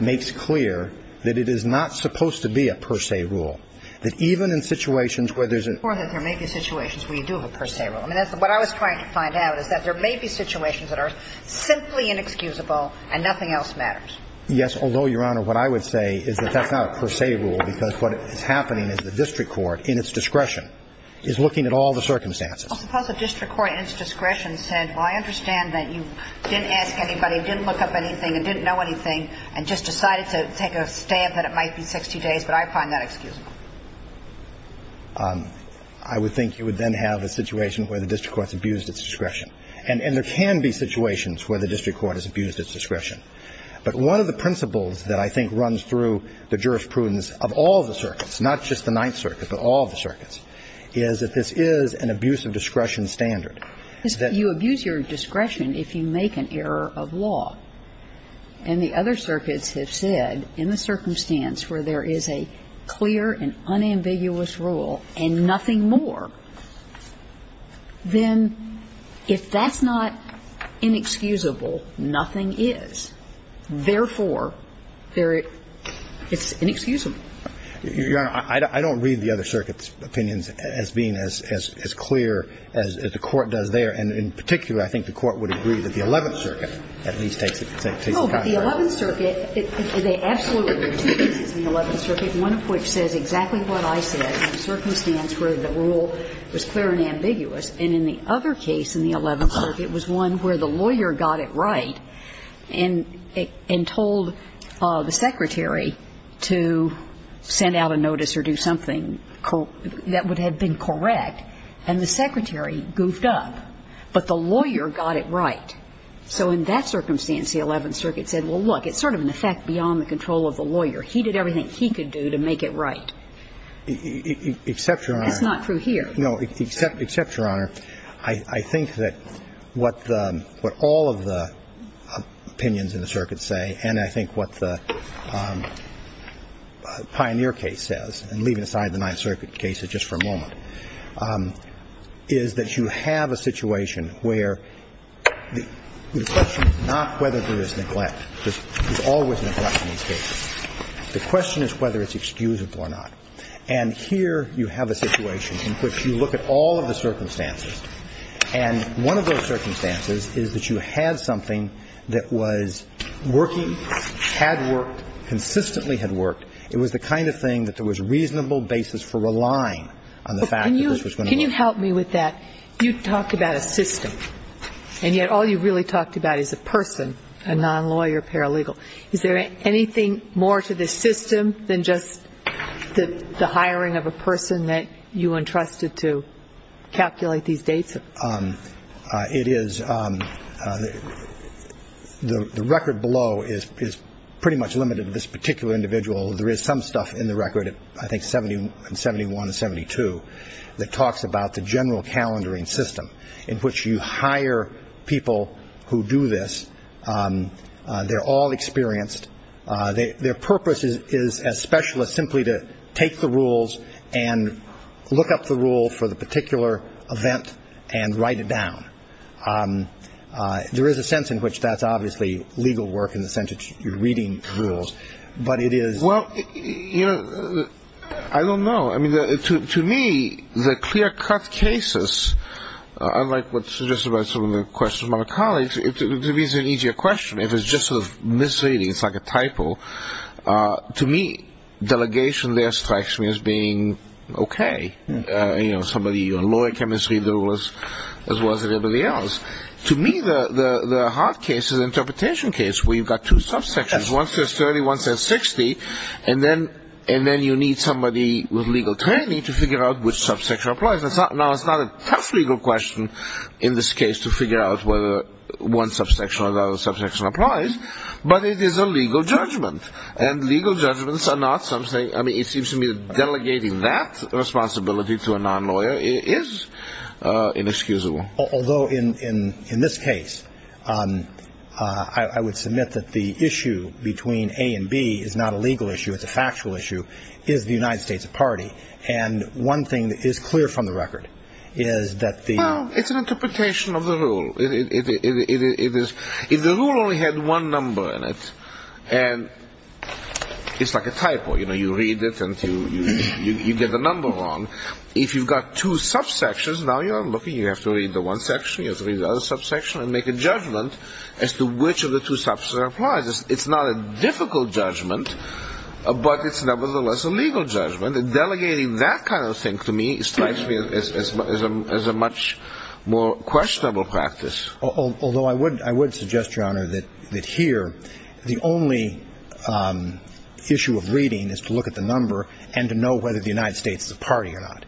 makes clear that it is not supposed to be a per se rule. That even in situations where there's a – Or that there may be situations where you do have a per se rule. I mean, that's what I was trying to find out is that there may be situations that are simply inexcusable and nothing else matters. Yes, although, Your Honor, what I would say is that that's not a per se rule because what is happening is the district court in its discretion is looking at all the circumstances. Well, suppose the district court in its discretion said, well, I understand that you didn't ask anybody, didn't look up anything, and didn't know anything and just decided to take a stand that it might be 60 days, but I find that excusable. I would think you would then have a situation where the district court's abused its discretion. And there can be situations where the district court has abused its discretion. But one of the principles that I think runs through the jurisprudence of all the circuits, not just the Ninth Circuit, but all the circuits, is that this is an abuse of discretion standard. You abuse your discretion if you make an error of law. And the other circuits have said in the circumstance where there is a clear and unambiguous rule and nothing more, then if that's not inexcusable, nothing is. Therefore, it's inexcusable. Your Honor, I don't read the other circuits' opinions as being as clear as the Court does there. And in particular, I think the Court would agree that the Eleventh Circuit at least takes it. No, but the Eleventh Circuit, there are absolutely two cases in the Eleventh Circuit, one of which says exactly what I said in the circumstance where the rule was clear and ambiguous. And in the other case in the Eleventh Circuit was one where the lawyer got it right and told the secretary to send out a notice or do something that would have been correct. And the secretary goofed up. But the lawyer got it right. So in that circumstance, the Eleventh Circuit said, well, look, it's sort of an effect beyond the control of the lawyer. He did everything he could do to make it right. Except, Your Honor. That's not true here. And I think what the Pioneer case says, and leaving aside the Ninth Circuit cases just for a moment, is that you have a situation where the question is not whether there is neglect. There's always neglect in these cases. The question is whether it's excusable or not. And here you have a situation in which you look at all of the circumstances. And one of those circumstances is that you had something that was working, had worked, consistently had worked. It was the kind of thing that there was reasonable basis for relying on the fact that this was going to work. But can you help me with that? You talked about a system. And yet all you really talked about is a person, a non-lawyer paralegal. Is there anything more to this system than just the hiring of a person that you entrusted to calculate these dates? It is the record below is pretty much limited to this particular individual. There is some stuff in the record, I think 71 and 72, that talks about the general calendaring system in which you hire people who do this. They're all experienced. Their purpose is, as specialists, simply to take the rules and look up the rule for the particular event and write it down. There is a sense in which that's obviously legal work in the sense that you're reading rules, but it is. Well, you know, I don't know. I mean, to me, the clear-cut cases, unlike what's suggested by some of the questions from other colleagues, to me it's an easier question. If it's just sort of misreading, it's like a typo. To me, delegation there strikes me as being okay. You know, somebody on lawyer chemistry, as well as everybody else. To me, the hard case is the interpretation case where you've got two subsections. One says 30, one says 60, and then you need somebody with legal training to figure out which subsection applies. Now, it's not a tough legal question in this case to figure out whether one subsection or another subsection applies, but it is a legal judgment, and legal judgments are not something – I mean, it seems to me that delegating that responsibility to a non-lawyer is inexcusable. Although, in this case, I would submit that the issue between A and B is not a legal issue. It's a factual issue. And one thing that is clear from the record is that the – Well, it's an interpretation of the rule. It is – if the rule only had one number in it, and it's like a typo. You know, you read it and you get the number wrong. If you've got two subsections, now you're looking, you have to read the one section, you have to read the other subsection and make a judgment as to which of the two subsections applies. It's not a difficult judgment, but it's nevertheless a legal judgment. Delegating that kind of thing to me strikes me as a much more questionable practice. Although I would suggest, Your Honor, that here the only issue of reading is to look at the number and to know whether the United States is a party or not.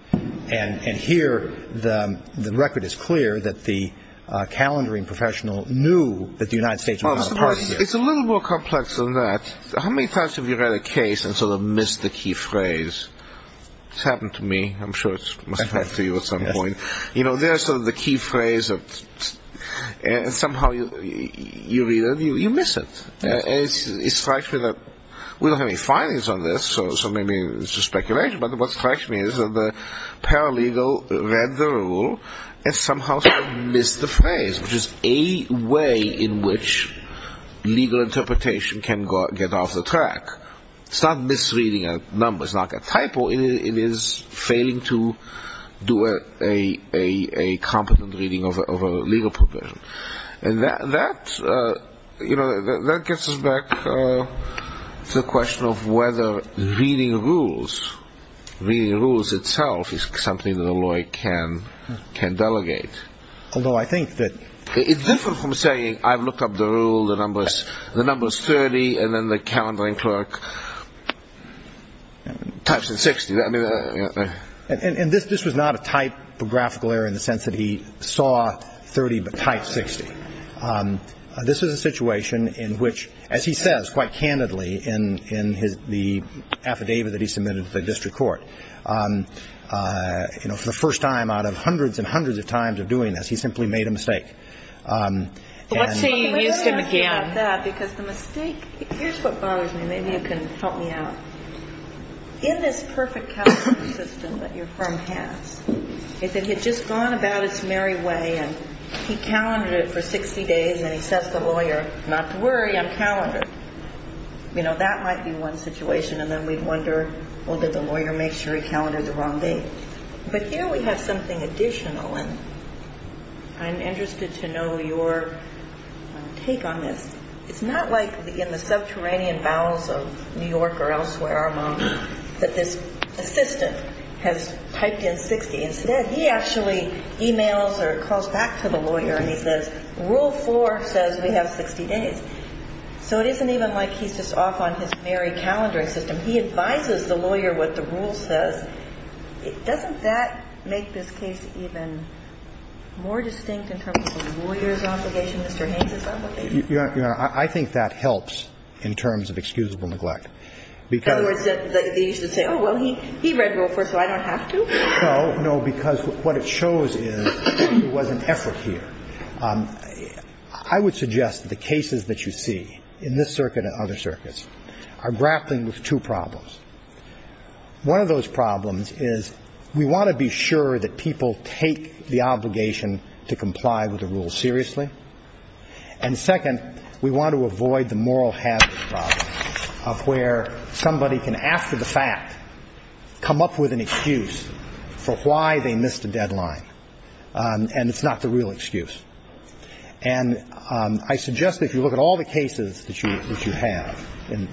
And here the record is clear that the calendaring professional knew that the United States was not a party. It's a little more complex than that. How many times have you read a case and sort of missed the key phrase? It's happened to me. I'm sure it must have happened to you at some point. You know, there's sort of the key phrase, and somehow you read it and you miss it. And it strikes me that we don't have any findings on this, so maybe it's just speculation. But what strikes me is that the paralegal read the rule and somehow sort of missed the phrase, which is a way in which legal interpretation can get off the track. It's not misreading a number. It's not a typo. It is failing to do a competent reading of a legal provision. And that gets us back to the question of whether reading rules, reading rules itself, is something that a lawyer can delegate. Although I think that it's different from saying I've looked up the rule, the number is 30, and then the calendaring clerk types in 60. And this was not a typographical error in the sense that he saw 30 but typed 60. This was a situation in which, as he says quite candidly in the affidavit that he submitted to the district court, for the first time out of hundreds and hundreds of times of doing this, he simply made a mistake. Let's say you used him again. Because the mistake, here's what bothers me. Maybe you can help me out. In this perfect calendaring system that your firm has, if it had just gone about its merry way and he calendared it for 60 days and then he says to the lawyer, not to worry, I'm calendared, you know, that might be one situation. And then we wonder, well, did the lawyer make sure he calendared the wrong date? But here we have something additional. And I'm interested to know your take on this. It's not like in the subterranean bowels of New York or elsewhere among that this assistant has typed in 60 and said, yeah, he actually emails or calls back to the lawyer and he says, rule 4 says we have 60 days. So it isn't even like he's just off on his merry calendaring system. He advises the lawyer what the rule says. Doesn't that make this case even more distinct in terms of the lawyer's obligation, Mr. Haynes's obligation? Your Honor, I think that helps in terms of excusable neglect. In other words, they used to say, oh, well, he read rule 4, so I don't have to? No, no, because what it shows is there was an effort here. I would suggest that the cases that you see in this circuit and other circuits are grappling with two problems. One of those problems is we want to be sure that people take the obligation to comply with the rule seriously. And second, we want to avoid the moral hazard problem of where somebody can, after the fact, come up with an excuse for why they missed a deadline, and it's not the real excuse. And I suggest that if you look at all the cases that you have in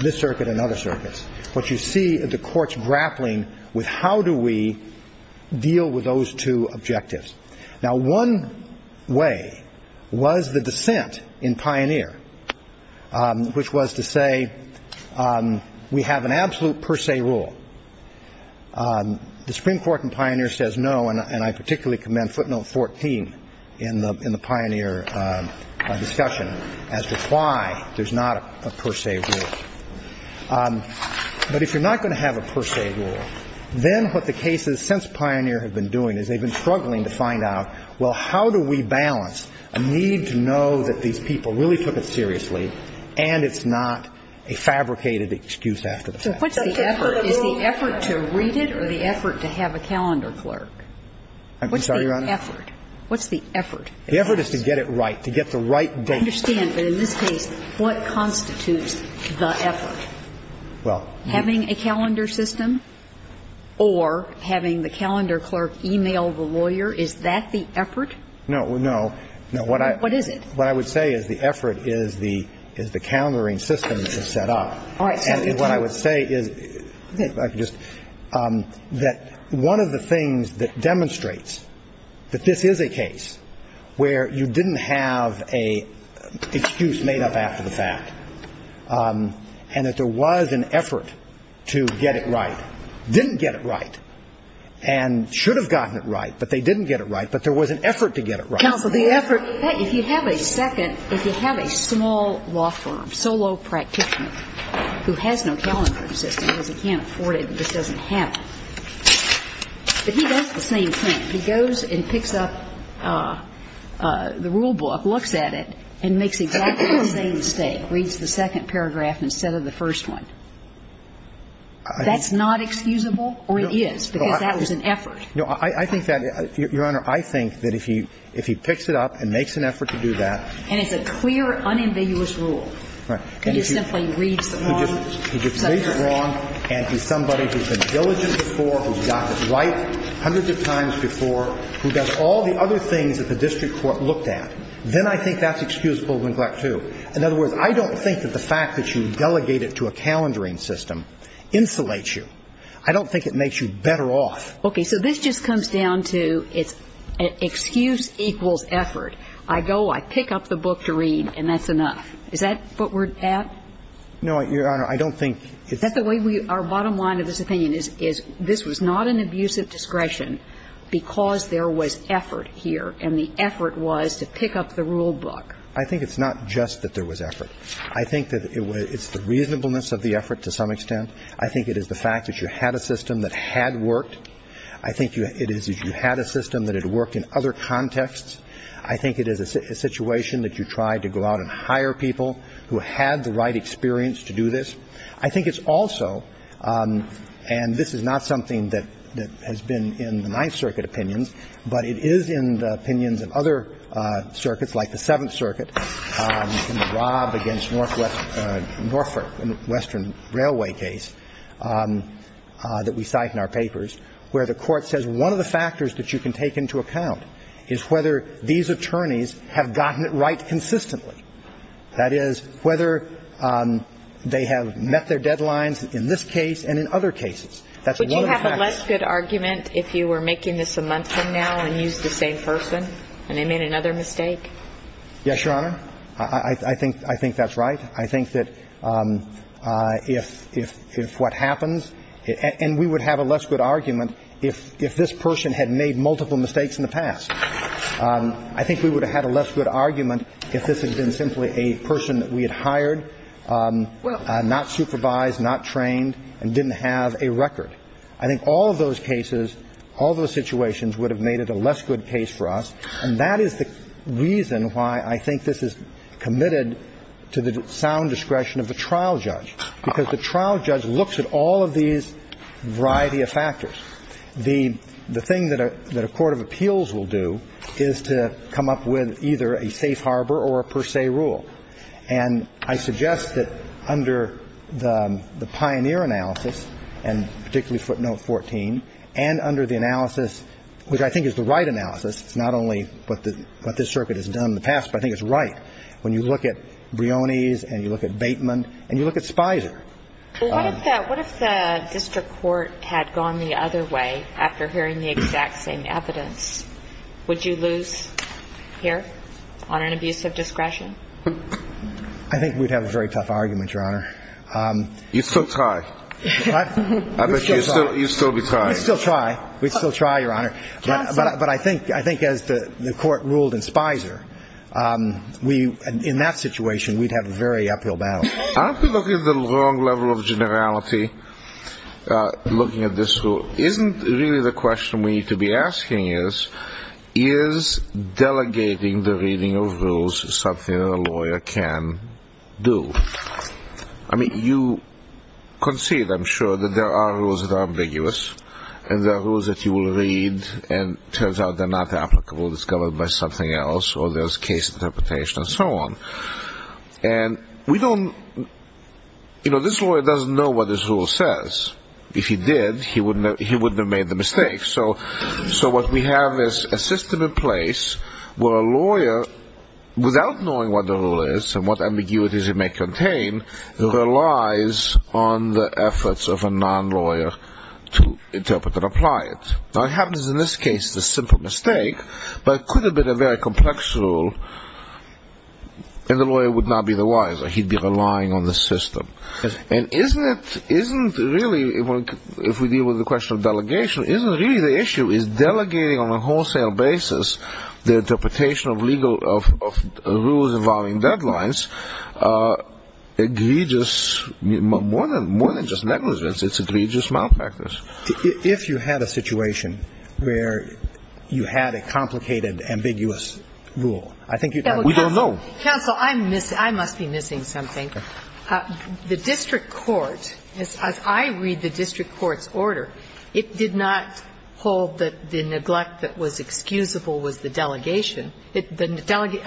this circuit and other circuits, what you see are the courts grappling with how do we deal with those two objectives. Now, one way was the dissent in Pioneer, which was to say we have an absolute per se rule. The Supreme Court in Pioneer says no, and I particularly commend footnote 14 in the Pioneer discussion as to why there's not a per se rule. But if you're not going to have a per se rule, then what the cases since Pioneer have been doing is they've been struggling to find out, well, how do we balance a need to know that these people really took it seriously and it's not a fabricated excuse after the fact? So what's the effort? Is the effort to read it or the effort to have a calendar clerk? I'm sorry, Your Honor? What's the effort? The effort is to get it right, to get the right date. I understand. But in this case, what constitutes the effort? Well, having a calendar system or having the calendar clerk email the lawyer, is that the effort? No, no. What is it? What I would say is the effort is the calendaring system that's set up. All right. And what I would say is that one of the things that demonstrates that this is a case where you didn't have an excuse made up after the fact and that there was an effort to get it right, didn't get it right, and should have gotten it right, but they didn't get it right, but there was an effort to get it right. Counsel, the effort, if you have a second, if you have a small law firm, solo practitioner, who has no calendar system because he can't afford it, this doesn't happen, but he does the same thing. He goes and picks up the rule book, looks at it, and makes exactly the same mistake, reads the second paragraph instead of the first one. That's not excusable, or it is, because that was an effort. No, I think that, Your Honor, I think that if he picks it up and makes an effort to do that. And it's a clear, unambiguous rule. He just simply reads the wrong subject. He just reads it wrong, and he's somebody who's been diligent before, who's got it right hundreds of times before, who does all the other things that the district court looked at. Then I think that's excusable neglect, too. In other words, I don't think that the fact that you delegate it to a calendaring system insulates you. I don't think it makes you better off. Okay. So this just comes down to it's excuse equals effort. I go, I pick up the book to read, and that's enough. Is that what we're at? No, Your Honor, I don't think it's the way we are. Bottom line of this opinion is this was not an abusive discretion because there was effort here, and the effort was to pick up the rule book. I think it's not just that there was effort. I think that it's the reasonableness of the effort to some extent. I think it is the fact that you had a system that had worked. I think it is that you had a system that had worked in other contexts. I think it is a situation that you tried to go out and hire people who had the right experience to do this. I think it's also, and this is not something that has been in the Ninth Circuit opinions, but it is in the opinions of other circuits, like the Seventh Circuit, in the Rob against Northwestern Railway case that we cite in our papers, where the Court says one of the factors that you can take into account is whether these attorneys have gotten it right consistently. That is, whether they have met their deadlines in this case and in other cases. That's one of the factors. Would you have a less good argument if you were making this a month from now and used the same person and they made another mistake? Yes, Your Honor. I think that's right. I think that if what happens, and we would have a less good argument if this person had made multiple mistakes in the past. I think we would have had a less good argument if this had been simply a person that we had hired, not supervised, not trained, and didn't have a record. I think all of those cases, all those situations would have made it a less good case for us. And that is the reason why I think this is committed to the sound discretion of the trial judge, because the trial judge looks at all of these variety of factors. The thing that a court of appeals will do is to come up with either a safe harbor or a per se rule. And I suggest that under the pioneer analysis, and particularly footnote 14, and under the analysis, which I think is the right analysis. It's not only what this circuit has done in the past, but I think it's right. When you look at Brioni's and you look at Bateman and you look at Spicer. What if the district court had gone the other way after hearing the exact same evidence? Would you lose here on an abuse of discretion? I think we'd have a very tough argument, Your Honor. You'd still tie. You'd still be tied. We'd still try. We'd still try, Your Honor. But I think as the court ruled in Spicer, in that situation, we'd have a very uphill battle. Aren't we looking at the wrong level of generality looking at this rule? Isn't really the question we need to be asking is, is delegating the reading of rules something that a lawyer can do? I mean, you concede, I'm sure, that there are rules that are ambiguous and there are rules that you will read and it turns out they're not applicable. It's covered by something else or there's case interpretation and so on. And we don't, you know, this lawyer doesn't know what this rule says. If he did, he wouldn't have made the mistake. So what we have is a system in place where a lawyer, without knowing what the rule is and what ambiguities it may contain, relies on the efforts of a non-lawyer to interpret and apply it. What happens in this case is a simple mistake, but it could have been a very complex rule, and the lawyer would not be the wiser. He'd be relying on the system. And isn't it, isn't really, if we deal with the question of delegation, isn't really the issue is delegating on a wholesale basis the interpretation of legal, of rules involving deadlines, egregious, more than just negligence, it's egregious malpractice. If you had a situation where you had a complicated, ambiguous rule, I think we don't know. Counsel, I'm missing, I must be missing something. The district court, as I read the district court's order, it did not hold that the neglect that was excusable was the delegation. I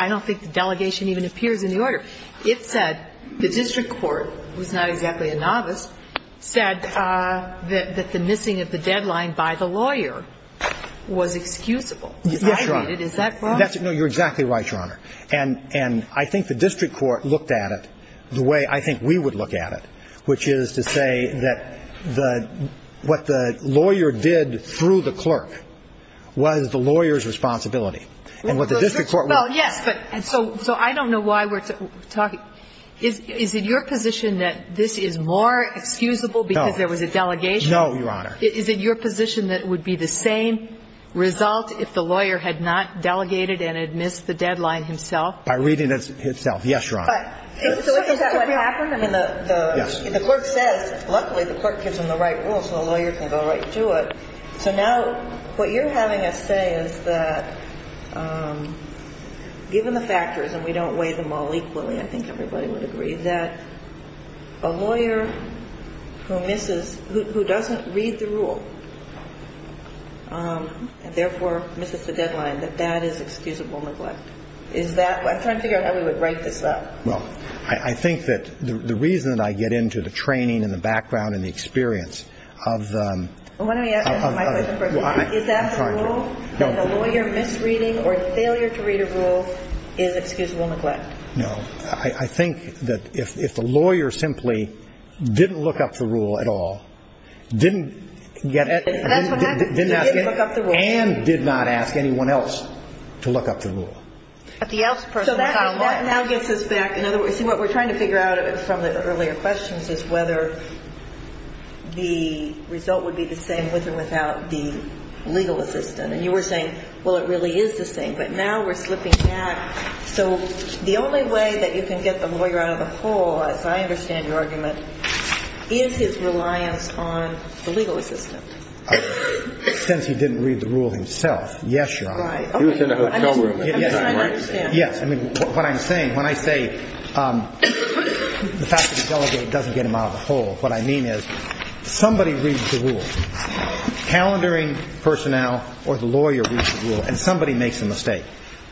don't think the delegation even appears in the order. It said the district court, who's not exactly a novice, said that the missing of the deadline by the lawyer was excusable. Yes, Your Honor. I read it. Is that wrong? No, you're exactly right, Your Honor. And I think the district court looked at it the way I think we would look at it, which is to say that what the lawyer did through the clerk was the lawyer's responsibility. And what the district court would do. Well, yes, but, and so I don't know why we're talking. Is it your position that this is more excusable because there was a delegation? No, Your Honor. Is it your position that it would be the same result if the lawyer had not delegated and had missed the deadline himself? By reading it himself. Yes, Your Honor. So is that what happened? Yes. The clerk says, luckily the clerk gives him the right rule so the lawyer can go right to it. So now what you're having us say is that given the factors, and we don't weigh them all equally, I think everybody would agree, that a lawyer who misses, who doesn't read the rule, and therefore misses the deadline, that that is excusable neglect. Is that, I'm trying to figure out how we would break this up. Well, I think that the reason that I get into the training and the background and the experience of... Why don't we ask my question first. Is that the rule? No. And the lawyer misreading or failure to read a rule is excusable neglect. No. I think that if the lawyer simply didn't look up the rule at all, didn't get... Didn't look up the rule. And did not ask anyone else to look up the rule. But the else person... So that now gets us back... In other words, what we're trying to figure out from the earlier questions is whether the result would be the same with or without the legal assistant. And you were saying, well, it really is the same. But now we're slipping back. So the only way that you can get the lawyer out of the hole, as I understand your argument, is his reliance on the legal assistant. Since he didn't read the rule himself. Yes, Your Honor. Right. He was in the hotel room at the time, right? Yes. I understand. Yes. I mean, what I'm saying, when I say the fact that the delegate doesn't get him out of the hole, what I mean is somebody reads the rule. Calendaring personnel or the lawyer reads the rule and somebody makes a mistake.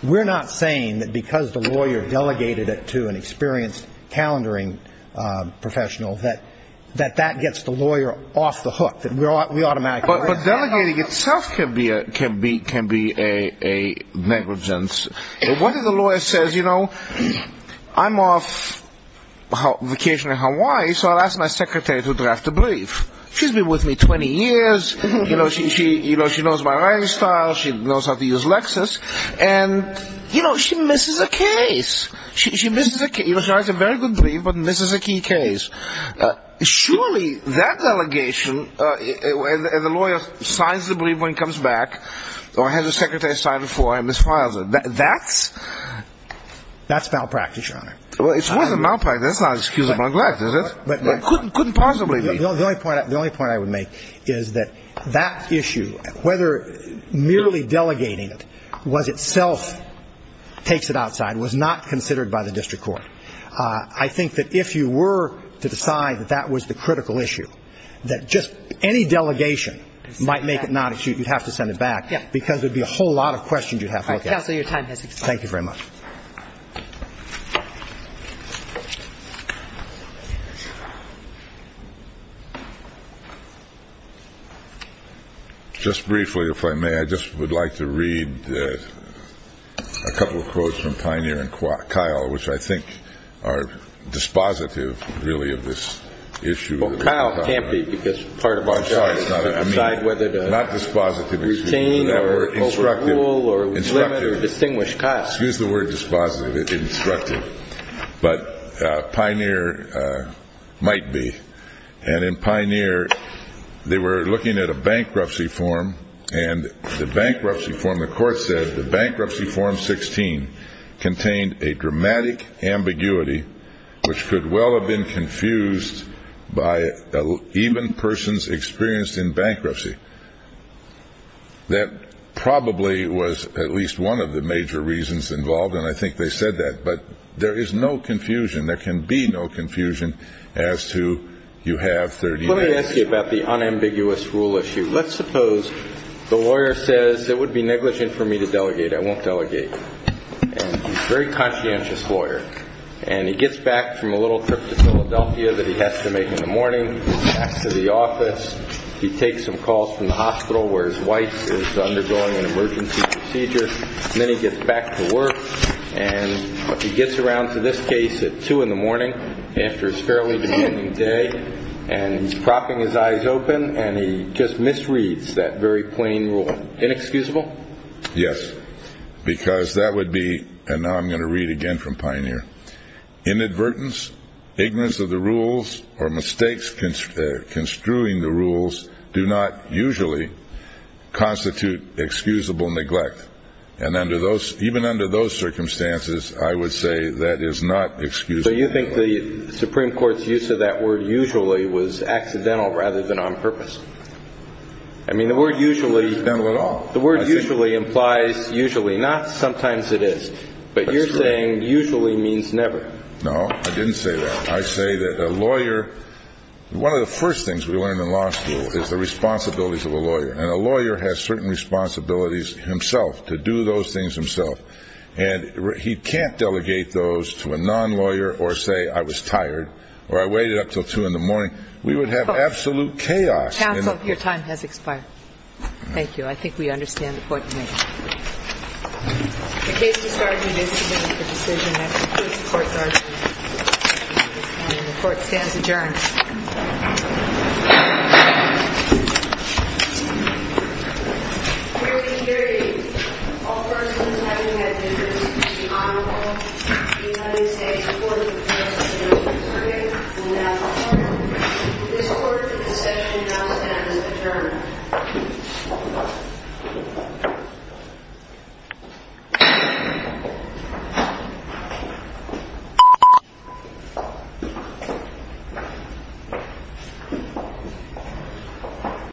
We're not saying that because the lawyer delegated it to an experienced calendaring professional that that gets the lawyer off the hook. We automatically... But delegating itself can be a negligence. What if the lawyer says, you know, I'm off vacation in Hawaii, so I'll ask my secretary to draft a brief. She's been with me 20 years. You know, she knows my writing style. She knows how to use Lexis. And, you know, she misses a case. She misses a case. You know, she writes a very good brief but misses a key case. Surely that delegation and the lawyer signs the brief when he comes back or has the secretary sign it for him and files it. That's... That's malpractice, Your Honor. Well, it's more than malpractice. That's not excusable neglect, is it? It couldn't possibly be. The only point I would make is that that issue, whether merely delegating it was itself takes it outside, was not considered by the district court. I think that if you were to decide that that was the critical issue, that just any delegation might make it not an issue. You'd have to send it back because there would be a whole lot of questions you'd have to look at. Counsel, your time has expired. Thank you very much. Just briefly, if I may, I just would like to read a couple of quotes from Pioneer and Kyle, which I think are dispositive, really, of this issue. Well, Kyle can't be because part of our job is to decide whether to retain or overrule or limit or distinguish Kyle. Excuse the word dispositive, instructive, but Pioneer might be. And in Pioneer, they were looking at a bankruptcy form, and the bankruptcy form, the court said, the bankruptcy form 16 contained a dramatic ambiguity which could well have been confused by even persons experienced in bankruptcy. That probably was at least one of the major reasons involved, and I think they said that. But there is no confusion. There can be no confusion as to you have 30 minutes. Let me ask you about the unambiguous rule issue. Let's suppose the lawyer says it would be negligent for me to delegate. I won't delegate. And he's a very conscientious lawyer, and he gets back from a little trip to Philadelphia that he has to make in the morning, he gets back to the office, he takes some calls from the hospital where his wife is undergoing an emergency procedure, and then he gets back to work. And he gets around to this case at 2 in the morning after it's fairly beginning day, and he's propping his eyes open, and he just misreads that very plain rule. Inexcusable? Yes, because that would be, and now I'm going to read again from Pioneer, Inadvertence, ignorance of the rules, or mistakes construing the rules do not usually constitute excusable neglect. And even under those circumstances, I would say that is not excusable neglect. So you think the Supreme Court's use of that word usually was accidental rather than on purpose? I mean, the word usually implies usually. Not sometimes it is. But you're saying usually means never. No, I didn't say that. I say that a lawyer, one of the first things we learn in law school is the responsibilities of a lawyer. And a lawyer has certain responsibilities himself to do those things himself. And he can't delegate those to a non-lawyer or say I was tired or I waited up until 2 in the morning. We would have absolute chaos. Counsel, your time has expired. Thank you. Thank you. I think we understand the Court's position. The case has started. And this is a decision that concludes the Court's argument. And the Court stands adjourned. Period. Period. All persons having a difference of the honor roll, the United States Court of Appeals has adjourned. And now the Court, this Court, the session now stands adjourned. Thank you.